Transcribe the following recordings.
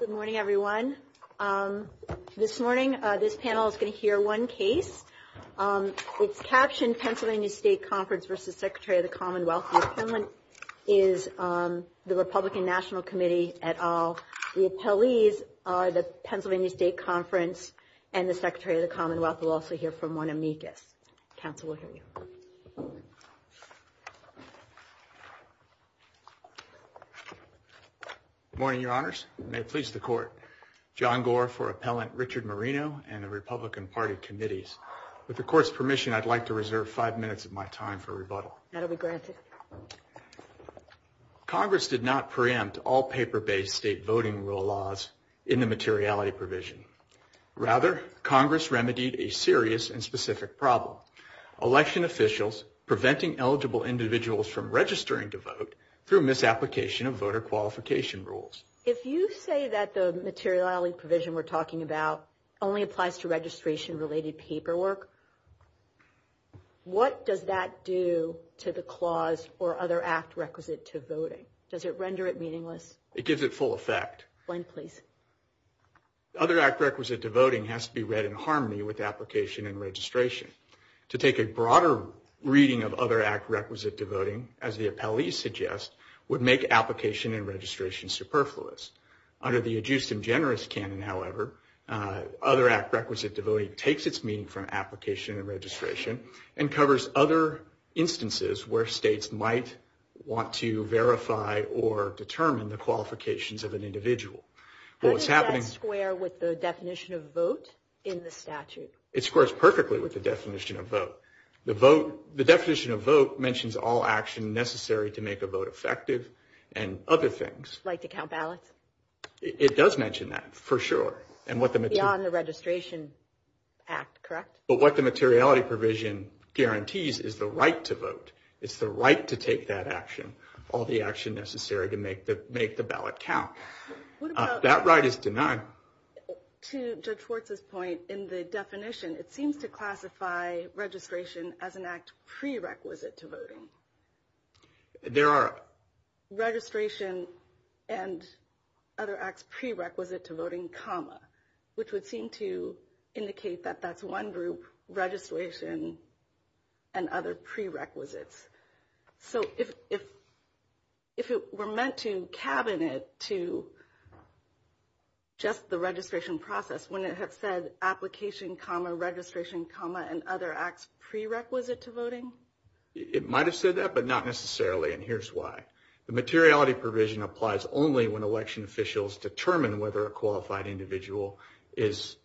Good morning, everyone. This morning, this panel is going to hear one case. It's captioned Pennsylvania State Conference v. Secretary of the Commonwealth. The appellant is the Republican National Committee et al. The appellees are the Pennsylvania State Conference and the Secretary of the Commonwealth. We'll also hear from one amicus. Council will hear you. Good morning, Your Honors. May it please the Court. John Gore for Appellant Richard Marino and the Republican Party Committees. With the Court's permission, I'd like to reserve five minutes of my time for rebuttal. Congress did not preempt all paper-based state voting rule laws in the materiality provision. Rather, Congress remedied a serious and specific problem, election officials preventing eligible individuals from registering to vote through misapplication of voter qualification rules. If you say that the materiality provision we're talking about only applies to registration-related paperwork, what does that do to the clause for other act requisite to voting? Does it render it meaningless? It gives it full effect. Other act requisite to voting has to be read in harmony with application and registration. To take a broader reading of other act requisite to voting, as the appellees suggest, would make application and registration superfluous. Under the adduced and generous canon, however, other act requisite to voting takes its meaning from application and registration and covers other instances where states might want to verify or determine the qualifications of an individual. Does that square with the definition of vote in the statute? It squares perfectly with the definition of vote. The definition of vote mentions all action necessary to make a vote effective and other things. Like the count ballots? It does mention that, for sure. Beyond the registration act, correct? But what the materiality provision guarantees is the right to vote. It's the right to take that action, all the action necessary to make the ballot count. That right is denied. To Judge Fortz's point, in the definition, it seems to classify registration as an act prerequisite to voting. There are. Registration and other acts prerequisite to voting, comma, which would seem to indicate that that's one group, registration and other prerequisites. So if it were meant to cabinet to just the registration process, wouldn't it have said application, comma, registration, comma, and other acts prerequisite to voting? It might have said that, but not necessarily, and here's why. The materiality provision applies only when election officials determine whether a qualified individual is,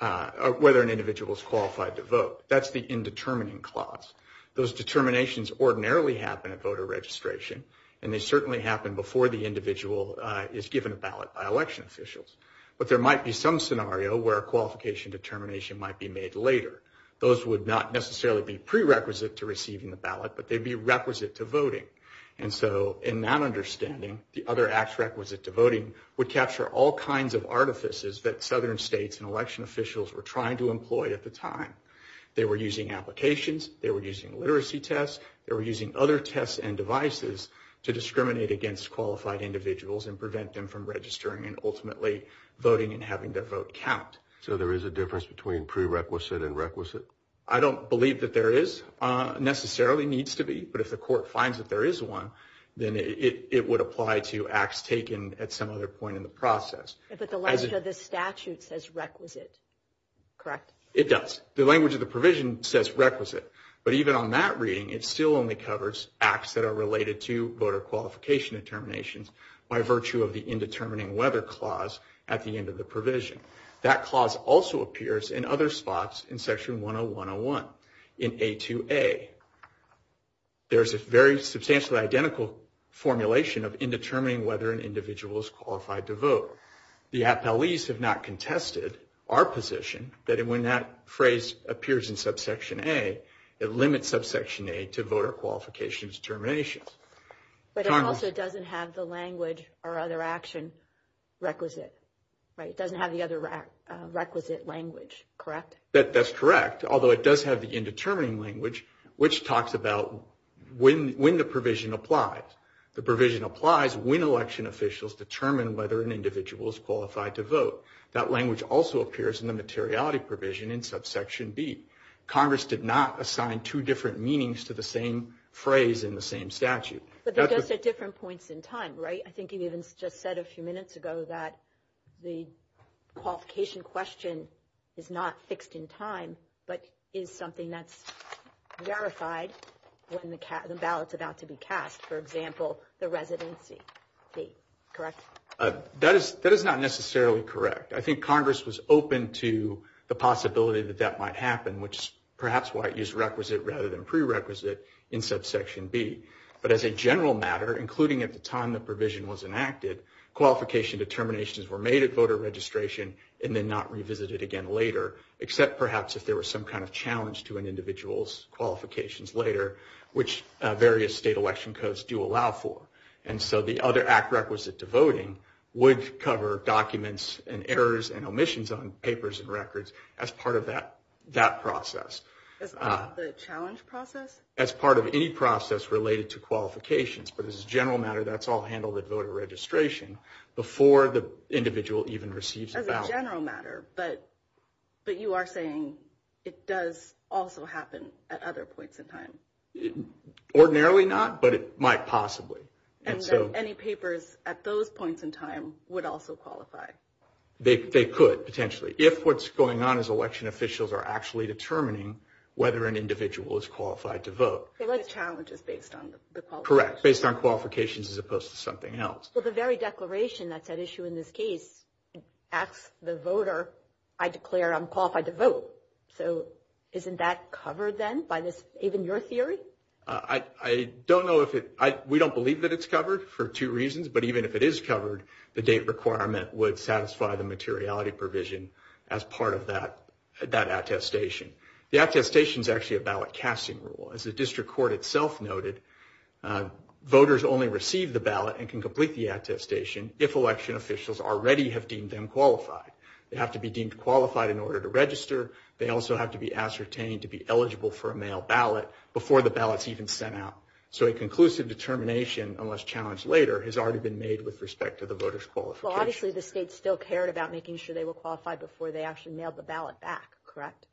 whether an individual is qualified to vote. That's the indetermining clause. Those determinations ordinarily happen at voter registration, and they certainly happen before the individual is given a ballot by election officials. But there might be some scenario where a qualification determination might be made later. Those would not necessarily be prerequisite to receiving the ballot, but they'd be requisite to voting. And so in that understanding, the other acts requisite to voting would capture all kinds of artifices that southern states and election officials were trying to employ at the time. They were using applications. They were using literacy tests. They were using other tests and devices to discriminate against qualified individuals and prevent them from registering and ultimately voting and having their vote count. So there is a difference between prerequisite and requisite? I don't believe that there is, necessarily needs to be, but if the court finds that there is one, then it would apply to acts taken at some other point in the process. But the language of the statute says requisite, correct? It does. The language of the provision says requisite. But even on that reading, it still only covers acts that are related to voter qualification determinations by virtue of the indetermining whether clause at the end of the provision. That clause also appears in other spots in Section 10101 in A2A. There is a very substantially identical formulation of indetermining whether an individual is qualified to vote. The appellees have not contested our position that when that phrase appears in subsection A, it limits subsection A to voter qualification determinations. But it also doesn't have the language or other action requisite, right? It doesn't have the other requisite language, correct? That's correct, although it does have the indetermining language, which talks about when the provision applies. The provision applies when election officials determine whether an individual is qualified to vote. That language also appears in the materiality provision in subsection B. Congress did not assign two different meanings to the same phrase in the same statute. But they're just at different points in time, right? I think you even just said a few minutes ago that the qualification question is not fixed in time, but is something that's verified when the ballot's about to be cast. For example, the residency date, correct? That is not necessarily correct. I think Congress was open to the possibility that that might happen, which is perhaps why it used requisite rather than prerequisite in subsection B. But as a general matter, including at the time the provision was enacted, qualification determinations were made at voter registration and then not revisited again later, except perhaps if there was some kind of challenge to an individual's qualifications later, which various state election codes do allow for. And so the other act requisite to voting would cover documents and errors and omissions on papers and records as part of that process. As part of the challenge process? As part of any process related to qualifications. But as a general matter, that's all handled at voter registration before the individual even receives the ballot. As a general matter, but you are saying it does also happen at other points in time? Ordinarily not, but it might possibly. And any papers at those points in time would also qualify? They could, potentially. If what's going on is election officials are actually determining whether an individual is qualified to vote. So that challenge is based on the qualifications? Correct, based on qualifications as opposed to something else. Well, the very declaration that's at issue in this case asks the voter, I declare I'm qualified to vote. So isn't that covered then by this, even your theory? I don't know if it, we don't believe that it's covered for two reasons. But even if it is covered, the date requirement would satisfy the materiality provision as part of that attestation. The attestation is actually a ballot casting rule. As the district court itself noted, voters only receive the ballot and can complete the attestation if election officials already have deemed them qualified. They have to be deemed qualified in order to register. They also have to be ascertained to be eligible for a mail ballot before the ballot is even sent out. So a conclusive determination, unless challenged later, has already been made with respect to the voter's qualifications. Well, obviously the state still cared about making sure they were qualified before they actually mailed the ballot back, correct?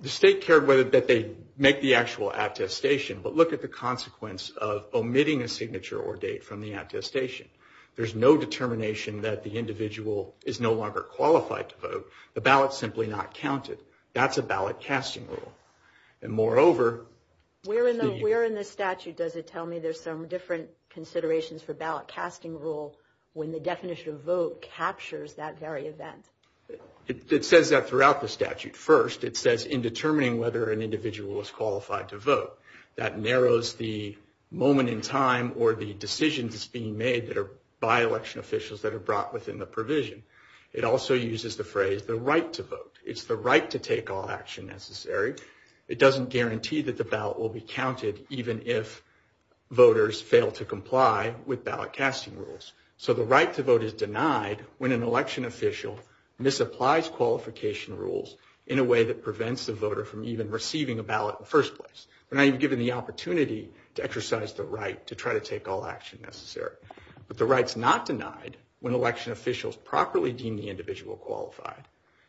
The state cared that they make the actual attestation. But look at the consequence of omitting a signature or date from the attestation. There's no determination that the individual is no longer qualified to vote. The ballot's simply not counted. That's a ballot casting rule. And moreover- Where in the statute does it tell me there's some different considerations for ballot casting rule when the definition of vote captures that very event? It says that throughout the statute. First, it says in determining whether an individual is qualified to vote. That narrows the moment in time or the decisions being made that are by election officials that are brought within the provision. It also uses the phrase, the right to vote. It's the right to take all action necessary. It doesn't guarantee that the ballot will be counted even if voters fail to comply with ballot casting rules. So the right to vote is denied when an election official- And this applies qualification rules in a way that prevents the voter from even receiving a ballot in the first place. We're not even given the opportunity to exercise the right to try to take all action necessary. But the right's not denied when election officials properly deem the individual qualified,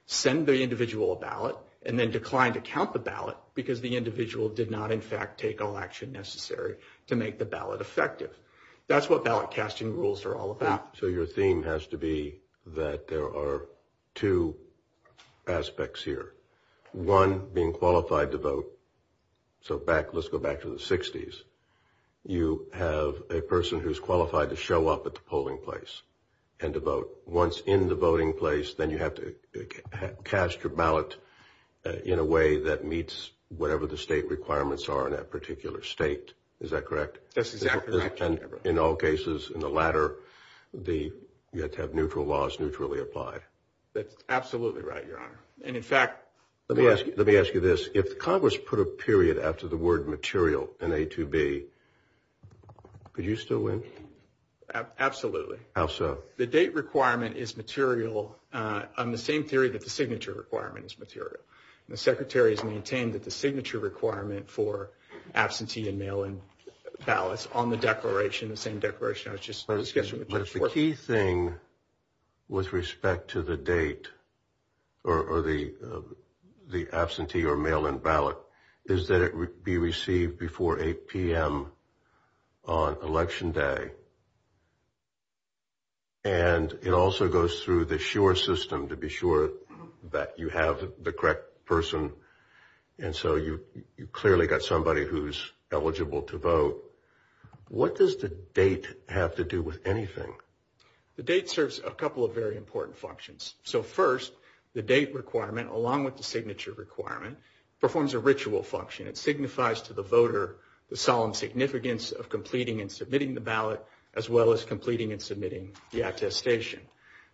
send the individual a ballot, and then decline to count the ballot because the individual did not in fact take all action necessary to make the ballot effective. That's what ballot casting rules are all about. So your theme has to be that there are two aspects here. One, being qualified to vote. So let's go back to the 60s. You have a person who's qualified to show up at the polling place and to vote. Once in the voting place, then you have to cast your ballot in a way that meets whatever the state requirements are in that particular state. Is that correct? That's exactly right. And in all cases, in the latter, you have to have neutral laws neutrally applied. That's absolutely right, Your Honor. And in fact- Let me ask you this. If Congress put a period after the word material in A2B, could you still win? Absolutely. How so? The date requirement is material on the same period that the signature requirement is material. The Secretary has maintained that the signature requirement for absentee and mail-in ballots on the declaration, the same declaration I was just- But the key thing with respect to the date or the absentee or mail-in ballot is that before 8 p.m. on election day. And it also goes through the SURE system to be sure that you have the correct person. And so you clearly got somebody who's eligible to vote. What does the date have to do with anything? The date serves a couple of very important functions. So first, the date requirement, along with the signature requirement, performs a ritual function. It signifies to the voter the solemn significance of completing and submitting the ballot, as well as completing and submitting the attestation.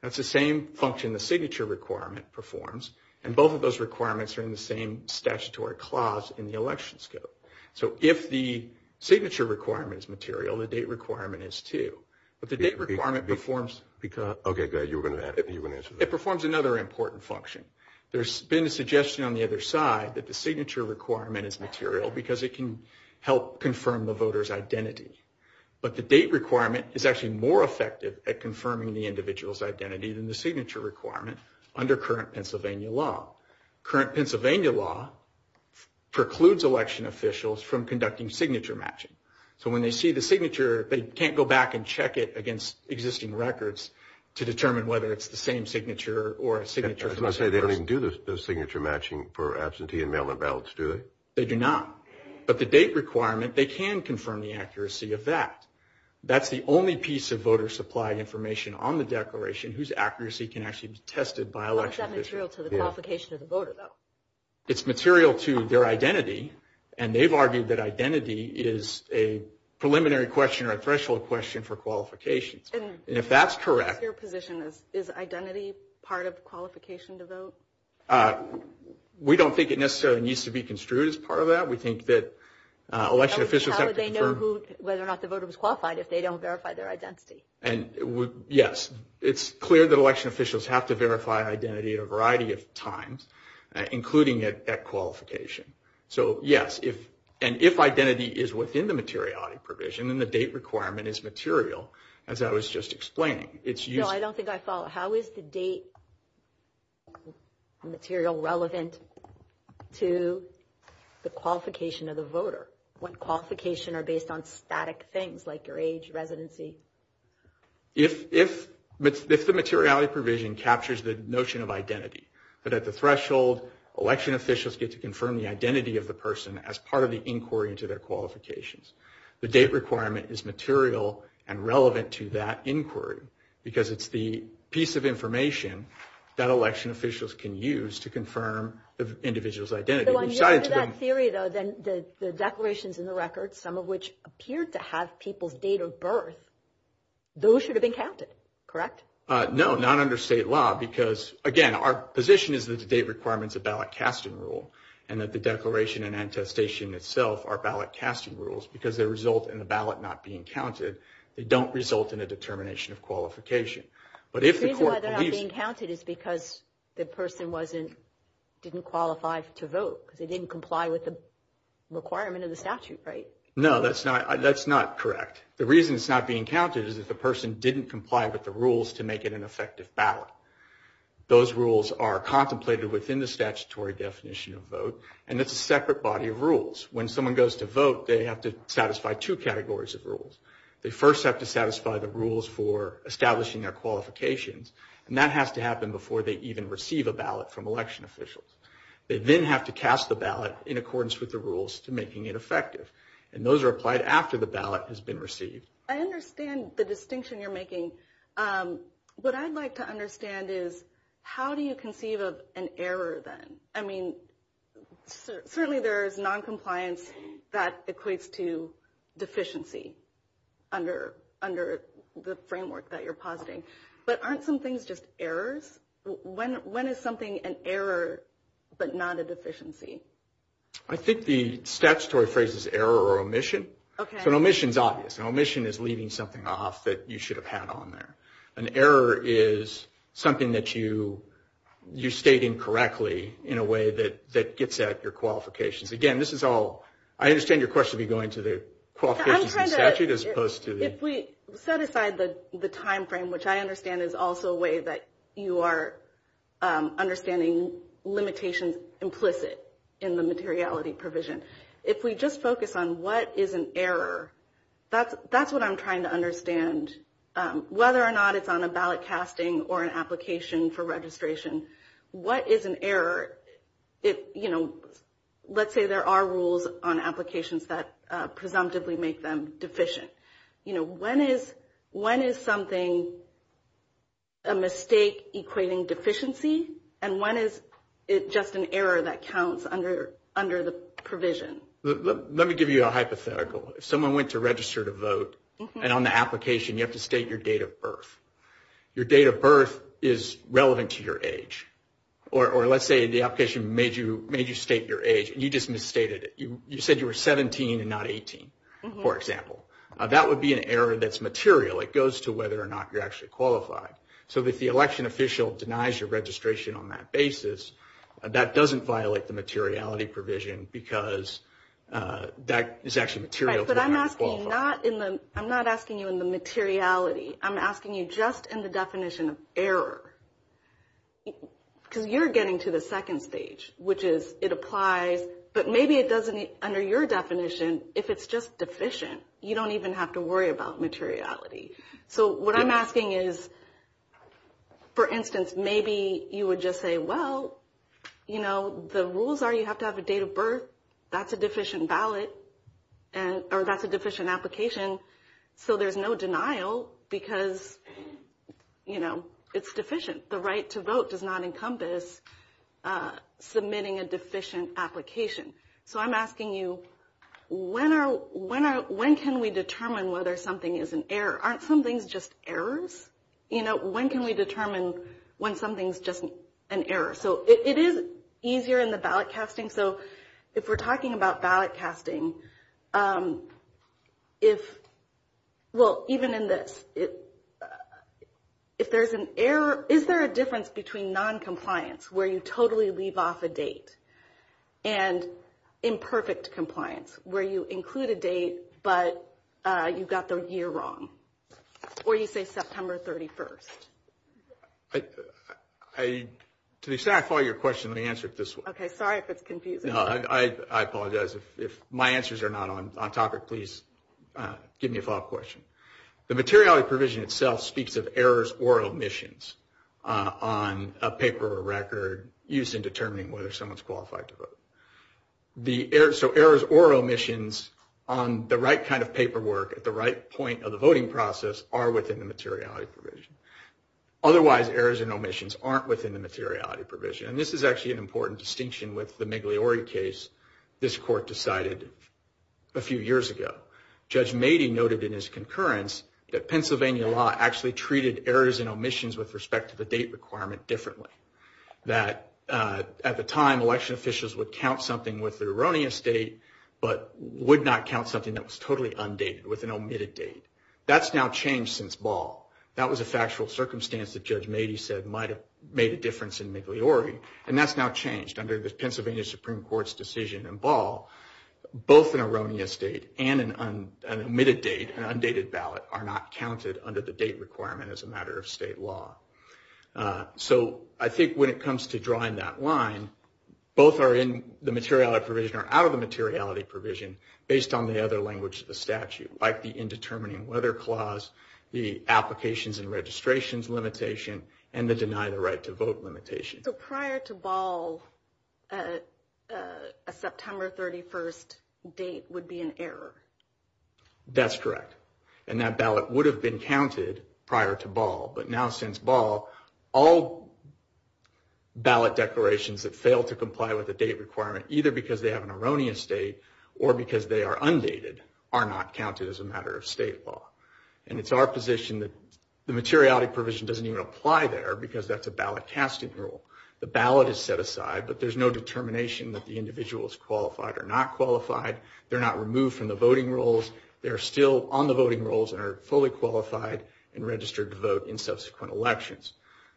That's the same function the signature requirement performs. And both of those requirements are in the same statutory clause in the election scope. So if the signature requirement is material, the date requirement is too. But the date requirement performs- Okay, good. You were going to answer that. It performs another important function. There's been a suggestion on the other side that the signature requirement is material because it can help confirm the voter's identity. But the date requirement is actually more effective at confirming the individual's identity than the signature requirement under current Pennsylvania law. Current Pennsylvania law precludes election officials from conducting signature matching. So when they see the signature, they can't go back and check it against existing records to determine whether it's the same signature or a signature- As I say, they don't even do the signature matching for absentee and mail-in ballots, do they? They do not. But the date requirement, they can confirm the accuracy of that. That's the only piece of voter-supplied information on the declaration whose accuracy can actually be tested by election officials. How is that material to the qualification of the voter, though? It's material to their identity, and they've argued that identity is a preliminary question or a threshold question for qualifications. And if that's correct- We don't think it necessarily needs to be construed as part of that. We think that election officials- How would they know whether or not the voter was qualified if they don't verify their identity? Yes. It's clear that election officials have to verify identity at a variety of times, including at qualification. So, yes, and if identity is within the materiality provision, then the date requirement is material, as I was just explaining. No, I don't think I follow. How is the date material relevant to the qualification of the voter when qualifications are based on static things like your age, residency? If the materiality provision captures the notion of identity, but at the threshold, election officials get to confirm the identity of the person as part of the inquiry into their qualifications, the date requirement is material and relevant to that inquiry because it's the piece of information that election officials can use to confirm the individual's identity. So, in that theory, though, the declarations in the record, some of which appear to have people's date of birth, those should have been counted, correct? No, not under state law because, again, our position is that the date requirement is a ballot casting rule and that the declaration and attestation itself are ballot casting rules because they result in the ballot not being counted. They don't result in a determination of qualification. The reason why they're not being counted is because the person didn't qualify to vote because they didn't comply with the requirement of the statute, right? No, that's not correct. The reason it's not being counted is that the person didn't comply with the rules to make it an effective ballot. Those rules are contemplated within the statutory definition of vote, and it's a separate body of rules. When someone goes to vote, they have to satisfy two categories of rules. They first have to satisfy the rules for establishing their qualifications, and that has to happen before they even receive a ballot from election officials. They then have to cast the ballot in accordance with the rules to making it effective, and those are applied after the ballot has been received. I understand the distinction you're making. What I'd like to understand is how do you conceive of an error then? I mean, certainly there is noncompliance that equates to deficiency under the framework that you're positing. But aren't some things just errors? When is something an error but not a deficiency? I think the statutory phrase is error or omission. Okay. An omission is obvious. An omission is leaving something off that you should have had on there. An error is something that you state incorrectly in a way that gets at your qualifications. Again, this is all – I understand your question would be going to the qualifications statute as opposed to the – If we set aside the timeframe, which I understand is also a way that you are understanding limitations implicit in the materiality provision. If we just focus on what is an error, that's what I'm trying to understand. Whether or not it's on a ballot casting or an application for registration, what is an error? Let's say there are rules on applications that presumptively make them deficient. When is something a mistake equating deficiency? And when is it just an error that counts under the provision? Let me give you a hypothetical. If someone went to register to vote and on the application you have to state your date of birth, your date of birth is relevant to your age. Or let's say the application made you state your age and you just misstated it. You said you were 17 and not 18, for example. That would be an error that's material. It goes to whether or not you're actually qualified. So if the election official denies your registration on that basis, that doesn't violate the materiality provision because that is actually material. I'm not asking you in the materiality. I'm asking you just in the definition of error. Because you're getting to the second stage, which is it applies, but maybe it doesn't under your definition if it's just deficient. You don't even have to worry about materiality. So what I'm asking is, for instance, maybe you would just say, well, you know, the rules are you have to have a date of birth. That's a deficient application, so there's no denial because, you know, it's deficient. The right to vote does not encompass submitting a deficient application. So I'm asking you when can we determine whether something is an error? Aren't some things just errors? You know, when can we determine when something's just an error? So it is easier in the ballot casting. So if we're talking about ballot casting, well, even in this, if there's an error, is there a difference between noncompliance, where you totally leave off a date, and imperfect compliance, where you include a date, but you got the year wrong, or you say September 31st? To the extent I follow your question, let me answer it this way. Okay, sorry if it's confusing. I apologize. If my answers are not on topic, please give me a follow-up question. The materiality provision itself speaks of errors or omissions on a paper or record used in determining whether someone's qualified to vote. So errors or omissions on the right kind of paperwork at the right point of the voting process are within the materiality provision. Otherwise, errors and omissions aren't within the materiality provision. And this is actually an important distinction with the Migliori case this court decided a few years ago. Judge Mady noted in his concurrence that Pennsylvania law actually treated errors and omissions with respect to the date requirement differently. That at the time, election officials would count something with an erroneous date, but would not count something that was totally undated with an omitted date. That's now changed since Ball. That was a factual circumstance that Judge Mady said might have made a difference in Migliori. And that's now changed. Under the Pennsylvania Supreme Court's decision in Ball, both an erroneous date and an omitted date, an undated ballot, are not counted under the date requirement as a matter of state law. So I think when it comes to drawing that line, both are in the materiality provision or out of the materiality provision based on the other language of the statute, like the Indetermining Weather Clause, the Applications and Registrations Limitation, and the Deny the Right to Vote Limitation. So prior to Ball, a September 31st date would be an error? That's correct. And that ballot would have been counted prior to Ball. But now since Ball, all ballot declarations that fail to comply with a date requirement, either because they have an erroneous date or because they are undated, are not counted as a matter of state law. And it's our position that the materiality provision doesn't even apply there because that's a ballot casting rule. The ballot is set aside, but there's no determination that the individual is qualified or not qualified. They're not removed from the voting rolls. They're still on the voting rolls and are fully qualified and registered to vote in subsequent elections.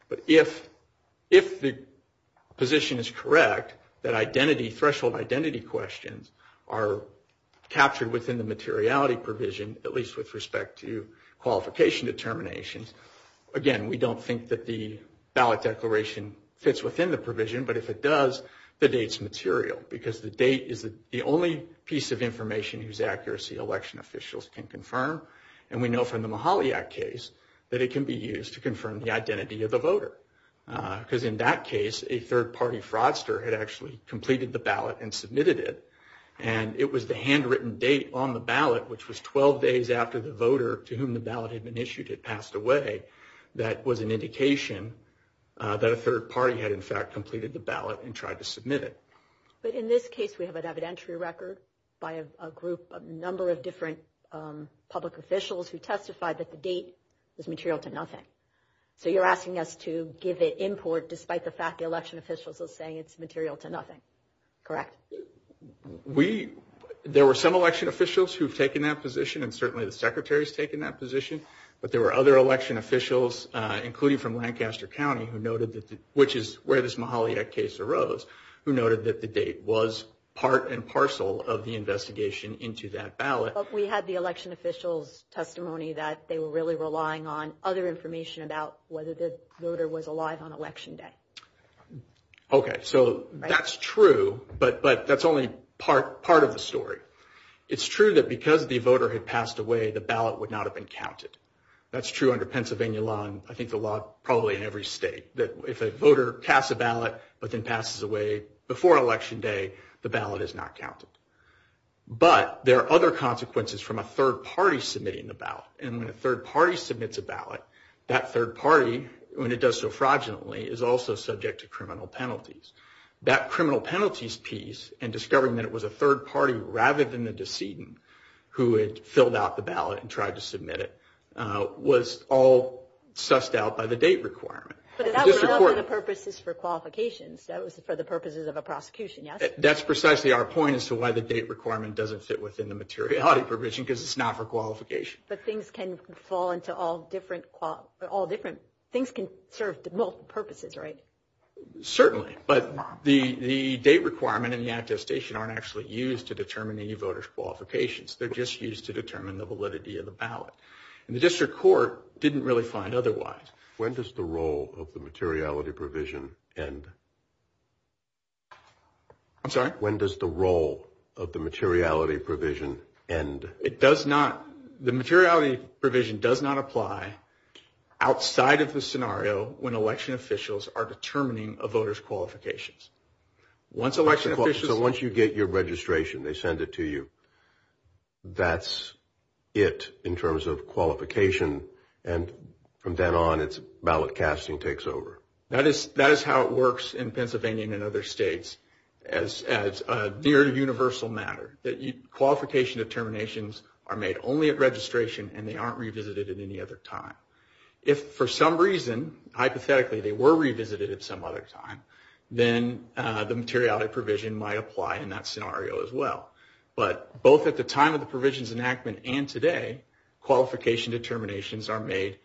But if the position is correct that threshold identity questions are captured within the materiality provision, at least with respect to qualification determination, again, we don't think that the ballot declaration fits within the provision. But if it does, the date's material because the date is the only piece of information whose accuracy election officials can confirm. And we know from the Mahalia case that it can be used to confirm the identity of the voter. Because in that case, a third-party fraudster had actually completed the ballot and submitted it, and it was the handwritten date on the ballot, which was 12 days after the voter to whom the ballot had been issued had passed away, that was an indication that a third party had, in fact, completed the ballot and tried to submit it. But in this case, we have an evidentiary record by a group, a number of different public officials who testified that the date is material to nothing. So you're asking us to give it import despite the fact the election officials are saying it's material to nothing, correct? There were some election officials who have taken that position, and certainly the Secretary has taken that position. But there were other election officials, including from Lancaster County, which is where this Mahalia case arose, who noted that the date was part and parcel of the investigation into that ballot. But we had the election officials' testimony that they were really relying on other information about whether the voter was alive on Election Day. Okay, so that's true, but that's only part of the story. It's true that because the voter had passed away, the ballot would not have been counted. That's true under Pennsylvania law, and I think the law probably in every state, that if a voter casts a ballot but then passes away before Election Day, the ballot is not counted. But there are other consequences from a third party submitting the ballot, and when a third party submits a ballot, that third party, when it does so fraudulently, is also subject to criminal penalties. That criminal penalties piece and discovering that it was a third party rather than the decedent who had filled out the ballot and tried to submit it was all sussed out by the date requirement. But that was for the purposes for qualifications. That was for the purposes of a prosecution, yes? That's precisely our point as to why the date requirement doesn't sit within the materiality provision because it's not for qualifications. But things can fall into all different – things can serve multiple purposes, right? Certainly, but the date requirement and the attestation aren't actually used to determine any voter's qualifications. They're just used to determine the validity of the ballot. And the district court didn't really find otherwise. When does the role of the materiality provision end? I'm sorry? When does the role of the materiality provision end? It does not – the materiality provision does not apply outside of the scenario when election officials are determining a voter's qualifications. So once you get your registration, they send it to you. That's it in terms of qualification. And from then on, ballot casting takes over. That is how it works in Pennsylvania and in other states as a very universal matter. Qualification determinations are made only at registration and they aren't revisited at any other time. If for some reason, hypothetically, they were revisited at some other time, then the materiality provision might apply in that scenario as well. But both at the time of the provisions enactment and today, qualification determinations are made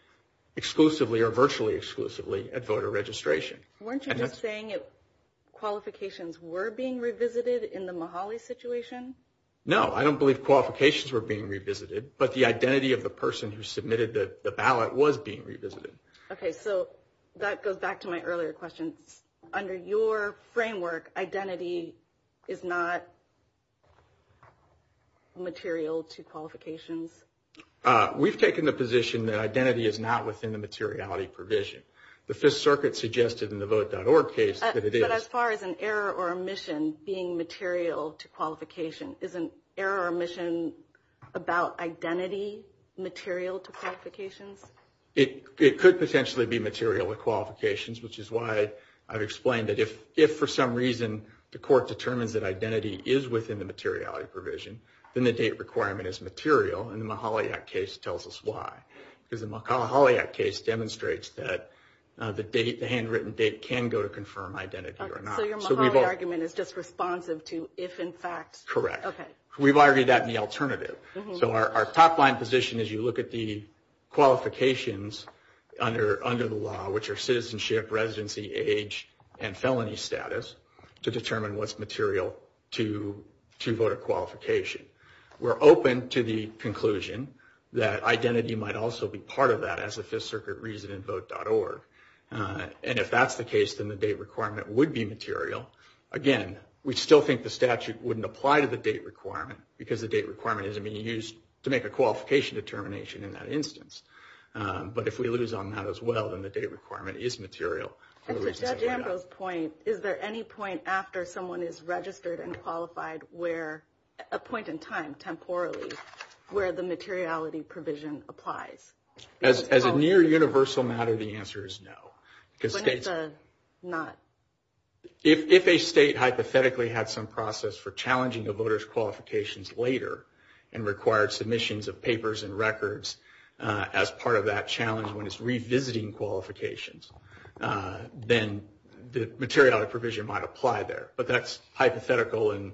exclusively or virtually exclusively at voter registration. Weren't you just saying qualifications were being revisited in the Mahale situation? No, I don't believe qualifications were being revisited, but the identity of the person who submitted the ballot was being revisited. Okay, so that goes back to my earlier question. Under your framework, identity is not material to qualifications? We've taken the position that identity is not within the materiality provision. The Fifth Circuit suggested in the Vote.org case that it is. But as far as an error or omission being material to qualifications, is an error or omission about identity material to qualifications? It could potentially be material to qualifications, which is why I've explained that if for some reason the court determines that identity is within the materiality provision, then the date requirement is material and the Mahale Act case tells us why. The Mahale Act case demonstrates that the handwritten date can go to confirm identity or not. So your Mahale Act argument is just responsive to if in fact? Correct. We've argued that in the alternative. So our top line position is you look at the qualifications under the law, which are citizenship, residency, age, and felony status to determine what's material to voter qualification. We're open to the conclusion that identity might also be part of that as the Fifth Circuit reasoned in Vote.org. And if that's the case, then the date requirement would be material. Again, we still think the statute wouldn't apply to the date requirement because the date requirement isn't being used to make a qualification determination in that instance. But if we lose on that as well, then the date requirement is material. At Judge Ambrose's point, is there any point after someone is registered and qualified where a point in time, temporally, where the materiality provision applies? As a near universal matter, the answer is no. But it does not? If a state hypothetically had some process for challenging the voters' qualifications later and required submissions of papers and records as part of that challenge when it's revisiting qualifications, then the materiality provision might apply there. But that's hypothetical and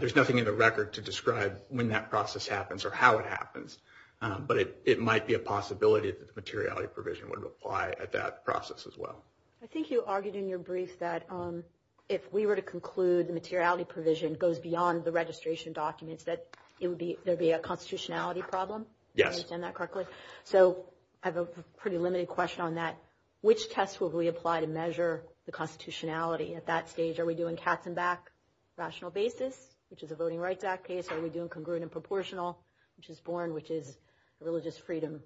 there's nothing in the record to describe when that process happens or how it happens. But it might be a possibility that the materiality provision would apply at that process as well. I think you argued in your brief that if we were to conclude the materiality provision goes beyond the registration documents, that there would be a constitutionality problem. Yes. So I have a pretty limited question on that. Which test would we apply to measure the constitutionality at that stage? Are we doing Katzenbach rational basis, which is a voting rights act case? Are we doing congruent and proportional, which is foreign, which is religious freedom?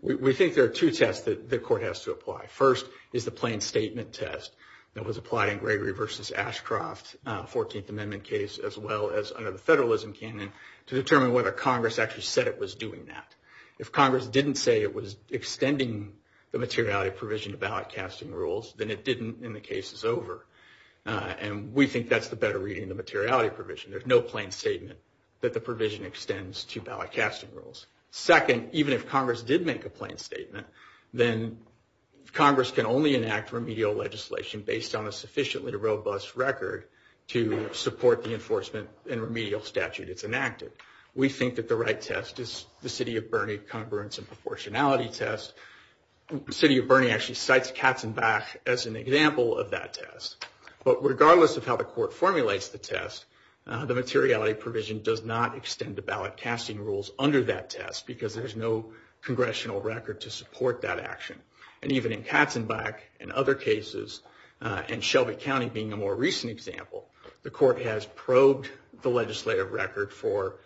We think there are two tests that the court has to apply. First is the plain statement test that was applied in Gregory v. Ashcroft, 14th Amendment case as well as under the Federalism Canyon, to determine whether Congress actually said it was doing that. If Congress didn't say it was extending the materiality provision to ballot casting rules, then it didn't and the case is over. And we think that's the better reading of the materiality provision. There's no plain statement that the provision extends to ballot casting rules. Second, even if Congress did make a plain statement, then Congress can only enact remedial legislation based on a sufficiently robust record to support the enforcement and remedial statute that's enacted. We think that the right test is the city of Burnie congruence and proportionality test. The city of Burnie actually cites Katzenbach as an example of that test. But regardless of how the court formulates the test, the materiality provision does not extend the ballot casting rules under that test because there's no congressional record to support that action. And even in Katzenbach and other cases, and Shelby County being a more recent example, the court has probed the legislative record for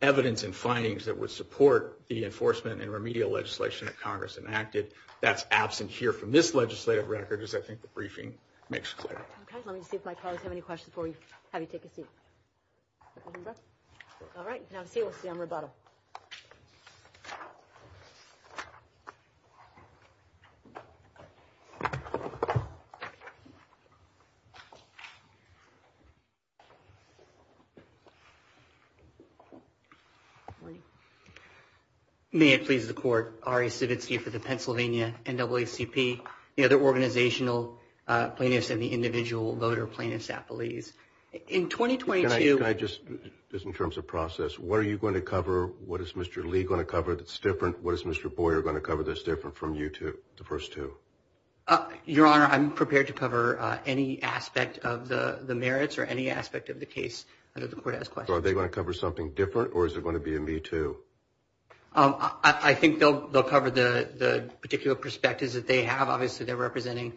evidence and findings that would support the enforcement and remedial legislation that Congress enacted. That's absent here from this legislative record as I think the briefing makes clear. Okay. Let me see if my colleagues have any questions for you. How do you take a seat? All right. Now let's see. Let's be on rebuttal. May it please the court. For the Pennsylvania NAACP, you know, the organizational plaintiffs and the individual voter plaintiffs, I believe. In 2022. Can I just, just in terms of process, what are you going to cover? What is Mr. Lee going to cover that's different? What is Mr. Boyer going to cover that's different from you two, the first two? Your Honor, I'm prepared to cover any aspect of the merits or any aspect of the case under the court has questions. Are they going to cover something different or is it going to be a me too? I think they'll, they'll cover the, the particular perspectives that they have. Obviously they're representing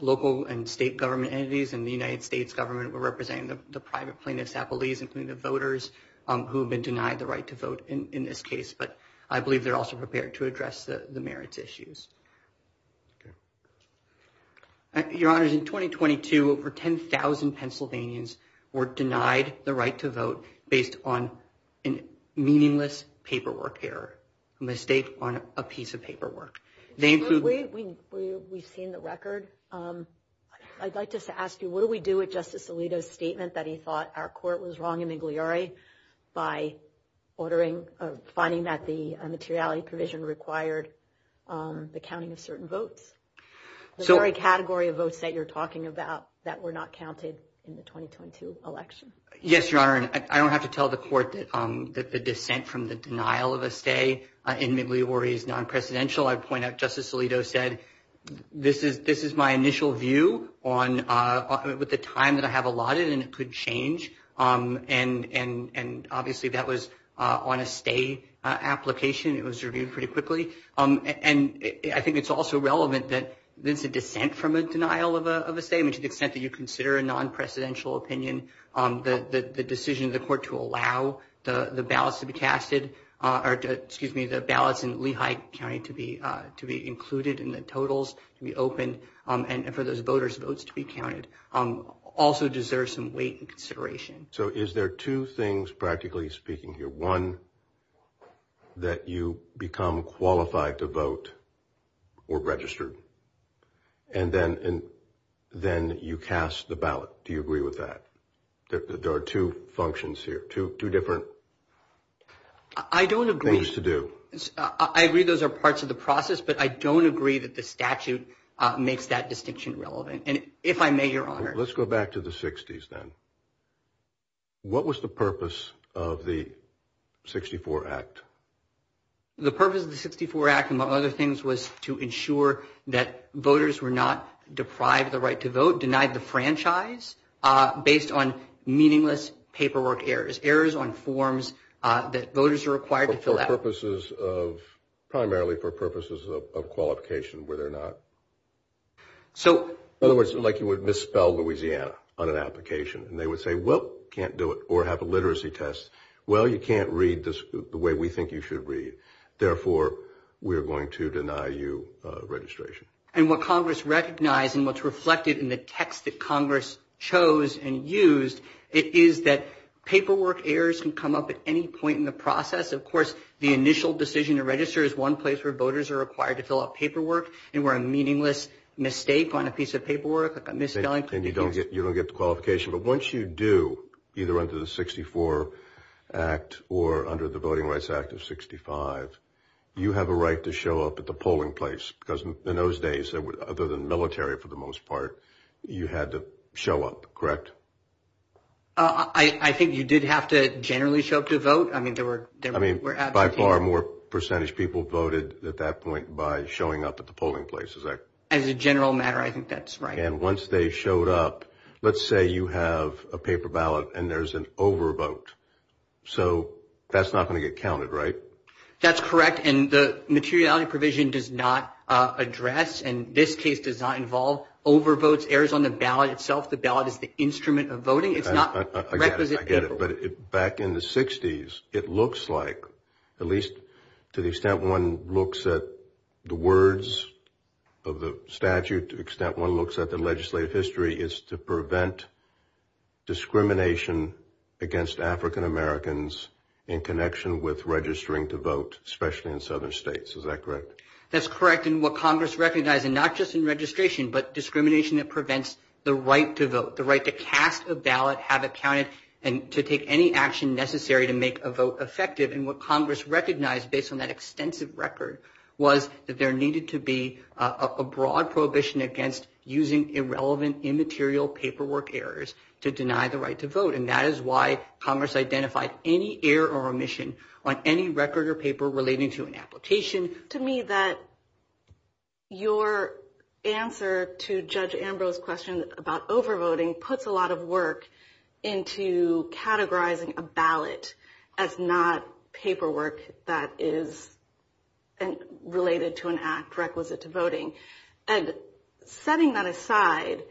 local and state government entities and the United States government were representing the private plaintiffs at the lease, including the voters who've been denied the right to vote in this case. But I believe they're also prepared to address the merits issues. Your Honor, in 2022, over 10,000 Pennsylvanians were denied the right to vote based on a meaningless paperwork error. A mistake on a piece of paperwork. We've seen the record. I'd like just to ask you, what do we do with Justice Alito's statement that he thought our court was wrong in Igliori by ordering, finding that the materiality provision required the counting of certain votes? The very category of votes that you're talking about that were not counted in the 2022 election. Yes, Your Honor. I don't have to tell the court that the dissent from the denial of a stay in Igliori is non-presidential. I'd point out Justice Alito said, this is, this is my initial view on, with the time that I have allotted and it could change. And, and, and obviously that was on a stay application. It was reviewed pretty quickly. And I think it's also relevant that there's a dissent from a denial of a stay, I mean, to the extent that you consider a non-presidential opinion, the decision of the court to allow the ballots to be casted, or excuse me, the ballots in Lehigh County to be, to be included in the totals to be opened, and for those voters votes to be counted, also deserves some weight and consideration. So is there two things practically speaking here? One, that you become qualified to vote or register. And then, and then you cast the ballot. Do you agree with that? There are two functions here, two, two different things to do. I don't agree. I agree those are parts of the process, but I don't agree that the statute makes that distinction relevant. And if I may, Your Honor. Let's go back to the 60s then. What was the purpose of the 64 Act? The purpose of the 64 Act, among other things, was to ensure that voters were not deprived the right to vote, denied the franchise, based on meaningless paperwork errors, errors on forms that voters are required to fill out. For purposes of, primarily for purposes of qualification, whether or not. So. Otherwise, like you would misspell Louisiana on an application, and they would say, well, can't do it, or have a literacy test. Well, you can't read this the way we think you should read. Therefore, we're going to deny you registration. And what Congress recognized, and what's reflected in the text that Congress chose and used, it is that paperwork errors can come up at any point in the process. Of course, the initial decision to register is one place where voters are required to fill out paperwork, and where a meaningless mistake on a piece of paperwork, a misspelling. And you don't get the qualification. But once you do, either under the 64 Act, or under the Voting Rights Act of 65, you have a right to show up at the polling place. Because in those days, other than military, for the most part, you had to show up. Correct? I think you did have to generally show up to vote. I mean, there were, I mean, by far more percentage people voted at that point by showing up at the polling places. As a general matter, I think that's right. And once they showed up, let's say you have a paper ballot and there's an overvote. So that's not going to get counted, right? That's correct. And the materiality provision does not address, and this case does not involve overvotes, errors on the ballot itself. The ballot is the instrument of voting. I get it. But back in the 60s, it looks like, at least to the extent one looks at the words of the statute, at least to the extent one looks at the legislative history, is to prevent discrimination against African-Americans in connection with registering to vote, especially in southern states. Is that correct? That's correct. And what Congress recognized, and not just in registration, but discrimination that prevents the right to vote, the right to cast a ballot, have it counted, and to take any action necessary to make a vote effective. And what Congress recognized, based on that extensive record, was that there needed to be a broad prohibition against using irrelevant immaterial paperwork errors to deny the right to vote. And that is why Congress identified any error or omission on any record or paper relating to an application. To me, your answer to Judge Ambrose's question about overvoting puts a lot of work into categorizing a ballot as not paperwork that is related to an act requisite to voting. And setting that aside,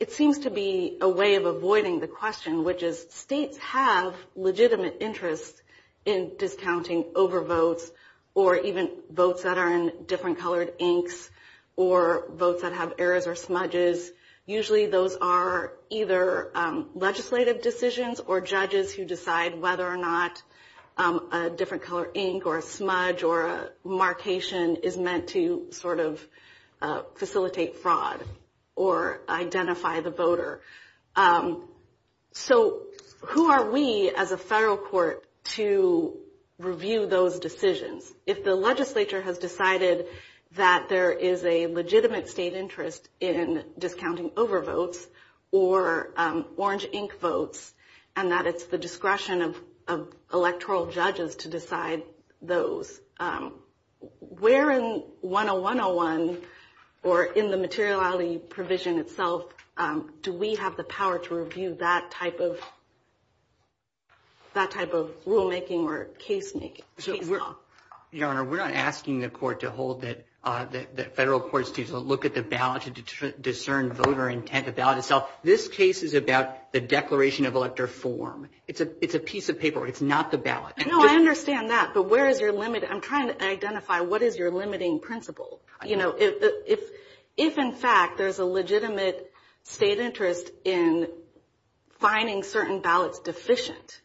it seems to be a way of avoiding the question, which is states have legitimate interest in discounting overvotes or even votes that are in different colored inks or votes that have errors or smudges. Usually those are either legislative decisions or judges who decide whether or not a different color ink or a smudge or a marcation is meant to sort of facilitate fraud or identify the voter. So who are we as a federal court to review those decisions? If the legislature has decided that there is a legitimate state interest in discounting overvotes or orange ink votes and that it's the discretion of electoral judges to decide those, where in 10101 or in the materiality provision itself do we have the power to review that type of rulemaking or casemaking? Your Honor, we're not asking the federal courts to look at the ballot to discern voter intent about itself. This case is about the declaration of elector form. It's a piece of paper. It's not the ballot. No, I understand that, but where is your limit? I'm trying to identify what is your limiting principle. You know, if in fact there's a legitimate state interest in finding certain ballots deficient,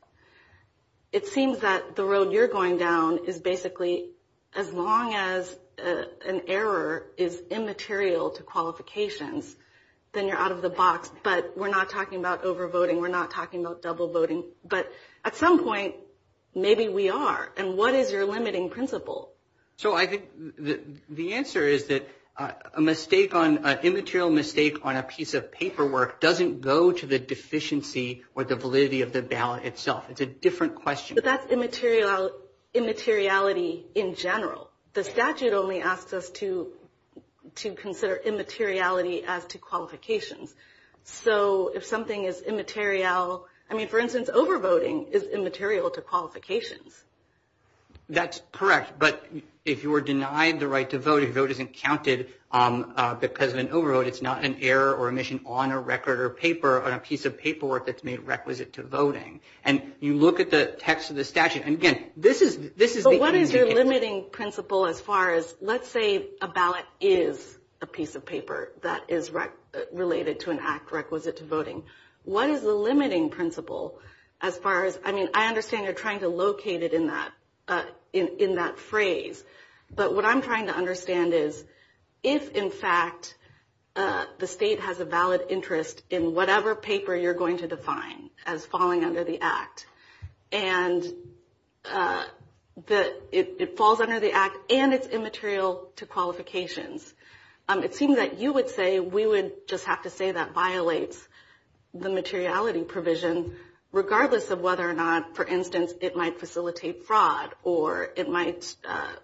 it seems that the road you're going down is basically as long as an error is immaterial to qualifications, then you're out of the box. But we're not talking about overvoting. We're not talking about double voting. But at some point maybe we are, and what is your limiting principle? So I think the answer is that an immaterial mistake on a piece of paperwork doesn't go to the deficiency or the validity of the ballot itself. It's a different question. But that's immateriality in general. The statute only asks us to consider immateriality as to qualifications. So if something is immaterial, I mean, for instance, overvoting is immaterial to qualifications. That's correct. But if you were denied the right to vote, your vote isn't counted because of an overvote. It's not an error or omission on a record or paper on a piece of paperwork that's made requisite to voting. And you look at the text of the statute. But what is your limiting principle as far as let's say a ballot is a piece of paper that is related to an act requisite to voting. What is the limiting principle as far as, I mean, I understand you're trying to locate it in that phrase. But what I'm trying to understand is if, in fact, the state has a valid interest in whatever paper you're going to define as falling under the act, and it falls under the act and it's immaterial to qualifications, it seems that you would say we would just have to say that violates the materiality provision regardless of whether or not, for instance, it might facilitate fraud or it might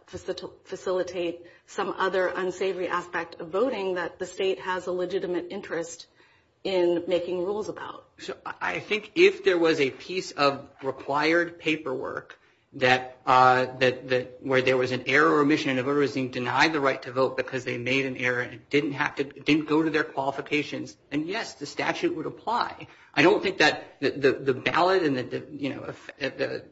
facilitate some other unsavory aspect of voting that the state has a legitimate interest in making rules about. So I think if there was a piece of required paperwork where there was an error or omission and a voter was being denied the right to vote because they made an error and it didn't go to their qualifications, then yes, the statute would apply. I don't think that the ballot and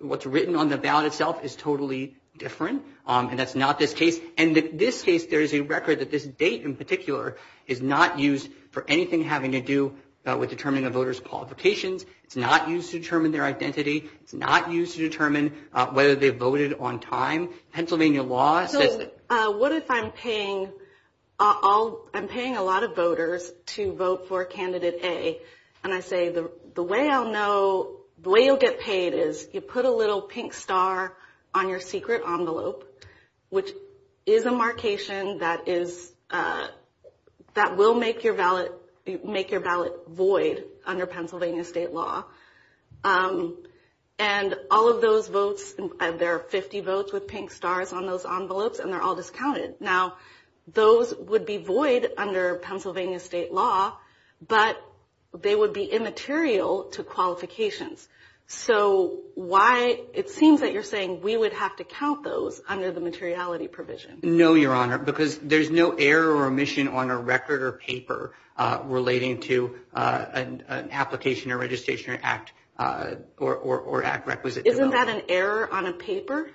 what's written on the ballot itself is totally different, and that's not the case. And in this case, there's a record that this date in particular is not used for anything having to do with determining a voter's qualifications. It's not used to determine their identity. It's not used to determine whether they voted on time. Pennsylvania law says that. So what if I'm paying a lot of voters to vote for Candidate A, and I say the way I'll know, the way you'll get paid is you put a little pink star on your secret envelope, which is a markation that will make your ballot void under Pennsylvania state law. And all of those votes, there are 50 votes with pink stars on those envelopes, and they're all discounted. Now, those would be void under Pennsylvania state law, but they would be immaterial to qualifications. So it seems that you're saying we would have to count those under the materiality provision. No, Your Honor, because there's no error or omission on a record or paper relating to an application or registration or act requisite to vote. Isn't that an error on a paper?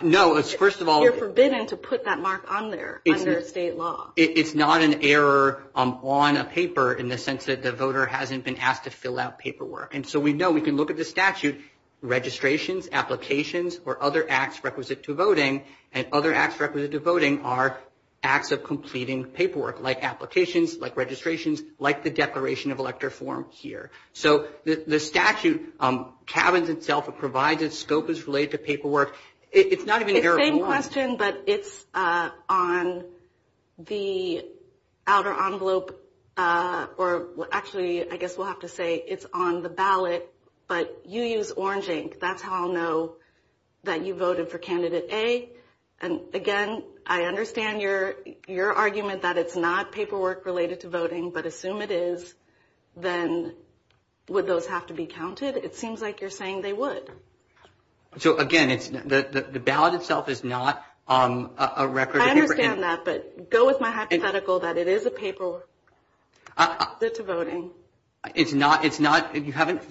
No. You're forbidden to put that mark on there under state law. It's not an error on a paper in the sense that the voter hasn't been asked to fill out paperwork. And so we know we can look at the statute, registrations, applications, or other acts requisite to voting, and other acts requisite to voting are acts of completing paperwork, like applications, like registrations, like the declaration of electoral form here. So the statute cabins itself, it provides a scope that's related to paperwork. It's not even an error. It's the same question, but it's on the outer envelope, or actually, I guess we'll have to say it's on the ballot, but you used orange ink. That's how I'll know that you voted for Candidate A. And, again, I understand your argument that it's not paperwork related to voting, but assume it is, then would those have to be counted? It seems like you're saying they would. So, again, the ballot itself is not on a record. I understand that, but go with my hypothetical that it is a paperwork requisite to voting. It's not. You haven't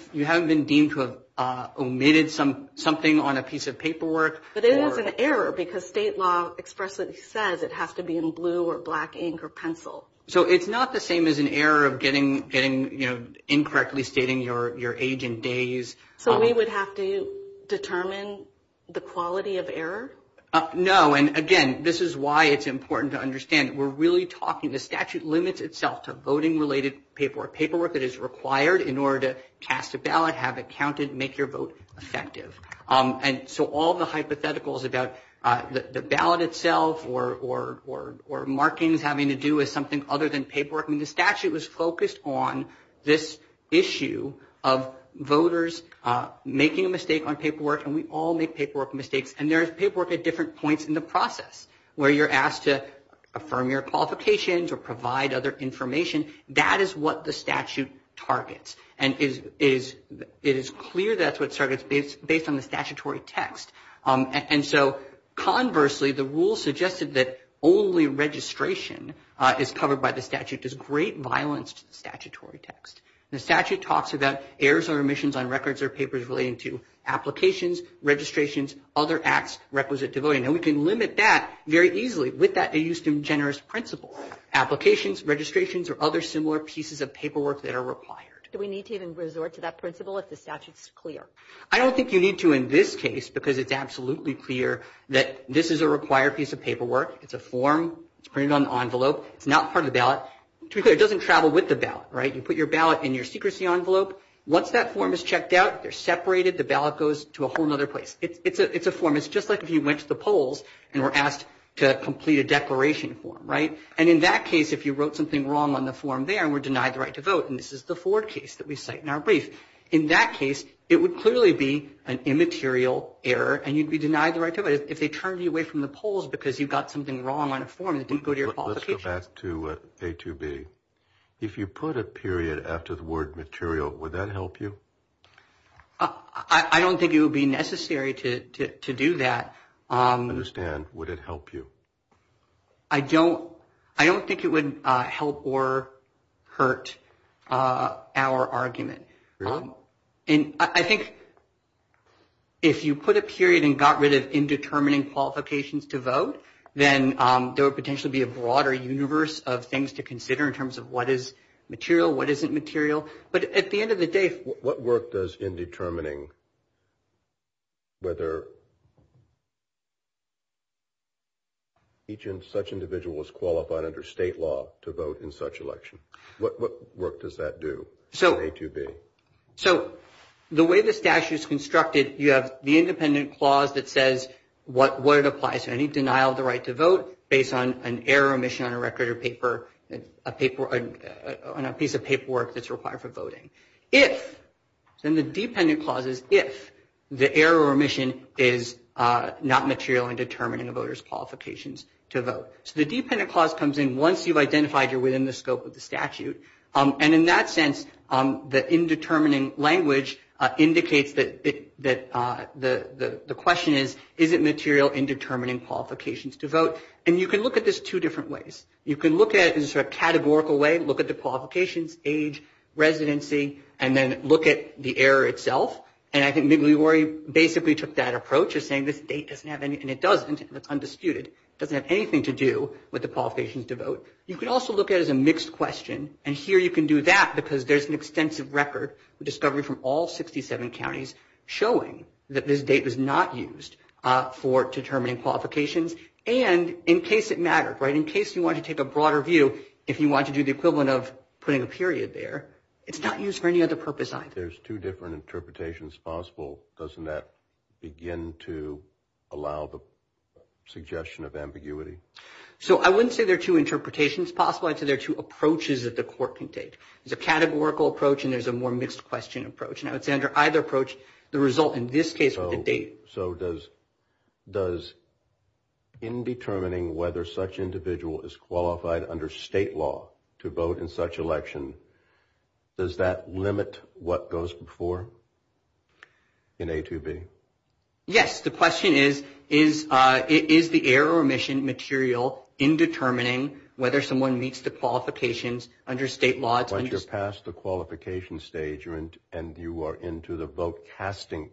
been deemed to have omitted something on a piece of paperwork. But it is an error because state law expressly says it has to be in blue or black ink or pencil. So it's not the same as an error of getting, you know, incorrectly stating your age and days. So we would have to determine the quality of error? No. And, again, this is why it's important to understand that we're really talking, the statute limits itself to voting-related paperwork, paperwork that is required in order to cast a ballot, have it counted, make your vote effective. And so all the hypotheticals about the ballot itself or markings having to do with something other than paperwork, I mean, the statute was focused on this issue of voters making a mistake on paperwork, and we all make paperwork mistakes. And there is paperwork at different points in the process, where you're asked to affirm your qualifications or provide other information. That is what the statute targets. And it is clear that's what targets based on the statutory text. And so, conversely, the rule suggested that only registration is covered by the statute. There's great violence to the statutory text. The statute talks about errors or omissions on records or papers relating to applications, registrations, other acts requisite to voting. And we can limit that very easily. With that, we use some generous principle. Applications, registrations, or other similar pieces of paperwork that are required. Do we need to even resort to that principle if the statute is clear? I don't think you need to in this case because it's absolutely clear that this is a required piece of paperwork. It's a form. It's printed on the envelope. It's not part of the ballot. To be clear, it doesn't travel with the ballot, right? You put your ballot in your secrecy envelope. Once that form is checked out, they're separated. The ballot goes to a whole other place. It's a form. It's just like if you went to the polls and were asked to complete a declaration form, right? And in that case, if you wrote something wrong on the form there and were denied the right to vote, and this is the Ford case that we cite in our brief, in that case, it would clearly be an immaterial error and you'd be denied the right to vote if they turned you away from the polls because you got something wrong on a form and didn't go to your falsification. Let's go back to A2B. If you put a period after the word material, would that help you? I don't think it would be necessary to do that. I understand. Would it help you? I don't think it would help or hurt our argument. Really? I think if you put a period and got rid of indeterminate qualifications to vote, then there would potentially be a broader universe of things to do in terms of what is material, what isn't material. But at the end of the day – What work does in determining whether each such individual is qualified under state law to vote in such election? What work does that do in A2B? So the way the statute is constructed, you have the independent clause that says what it applies to. Any denial of the right to vote based on an error or omission on a record or paper – on a piece of paperwork that's required for voting. If – so in the dependent clauses, if the error or omission is not material in determining a voter's qualifications to vote. So the dependent clause comes in once you've identified you're within the scope of the statute. And in that sense, the indeterminate language indicates that the question is, is it material in determining qualifications to vote? And you can look at this two different ways. You can look at it in sort of a categorical way, look at the qualifications, age, residency, and then look at the error itself. And I think Migliore basically took that approach of saying this date doesn't have any – and it does, it's undisputed. It doesn't have anything to do with the qualifications to vote. You can also look at it as a mixed question. And here you can do that because there's an extensive record of discovery from all 67 counties showing that this date was not used for determining qualifications. And in case it mattered, right, in case you wanted to take a broader view, if you wanted to do the equivalent of putting a period there, it's not used for any other purpose either. There's two different interpretations possible. Doesn't that begin to allow the suggestion of ambiguity? So I wouldn't say there are two interpretations possible. I'd say there are two approaches that the court can take. There's a categorical approach and there's a more mixed question approach. And I would say under either approach, the result in this case would be date. So does indetermining whether such individual is qualified under state law to vote in such election, does that limit what goes before in A2B? Yes. The question is, is the error remission material indetermining whether someone meets the qualifications under state laws? But you're past the qualification stage and you are into the vote casting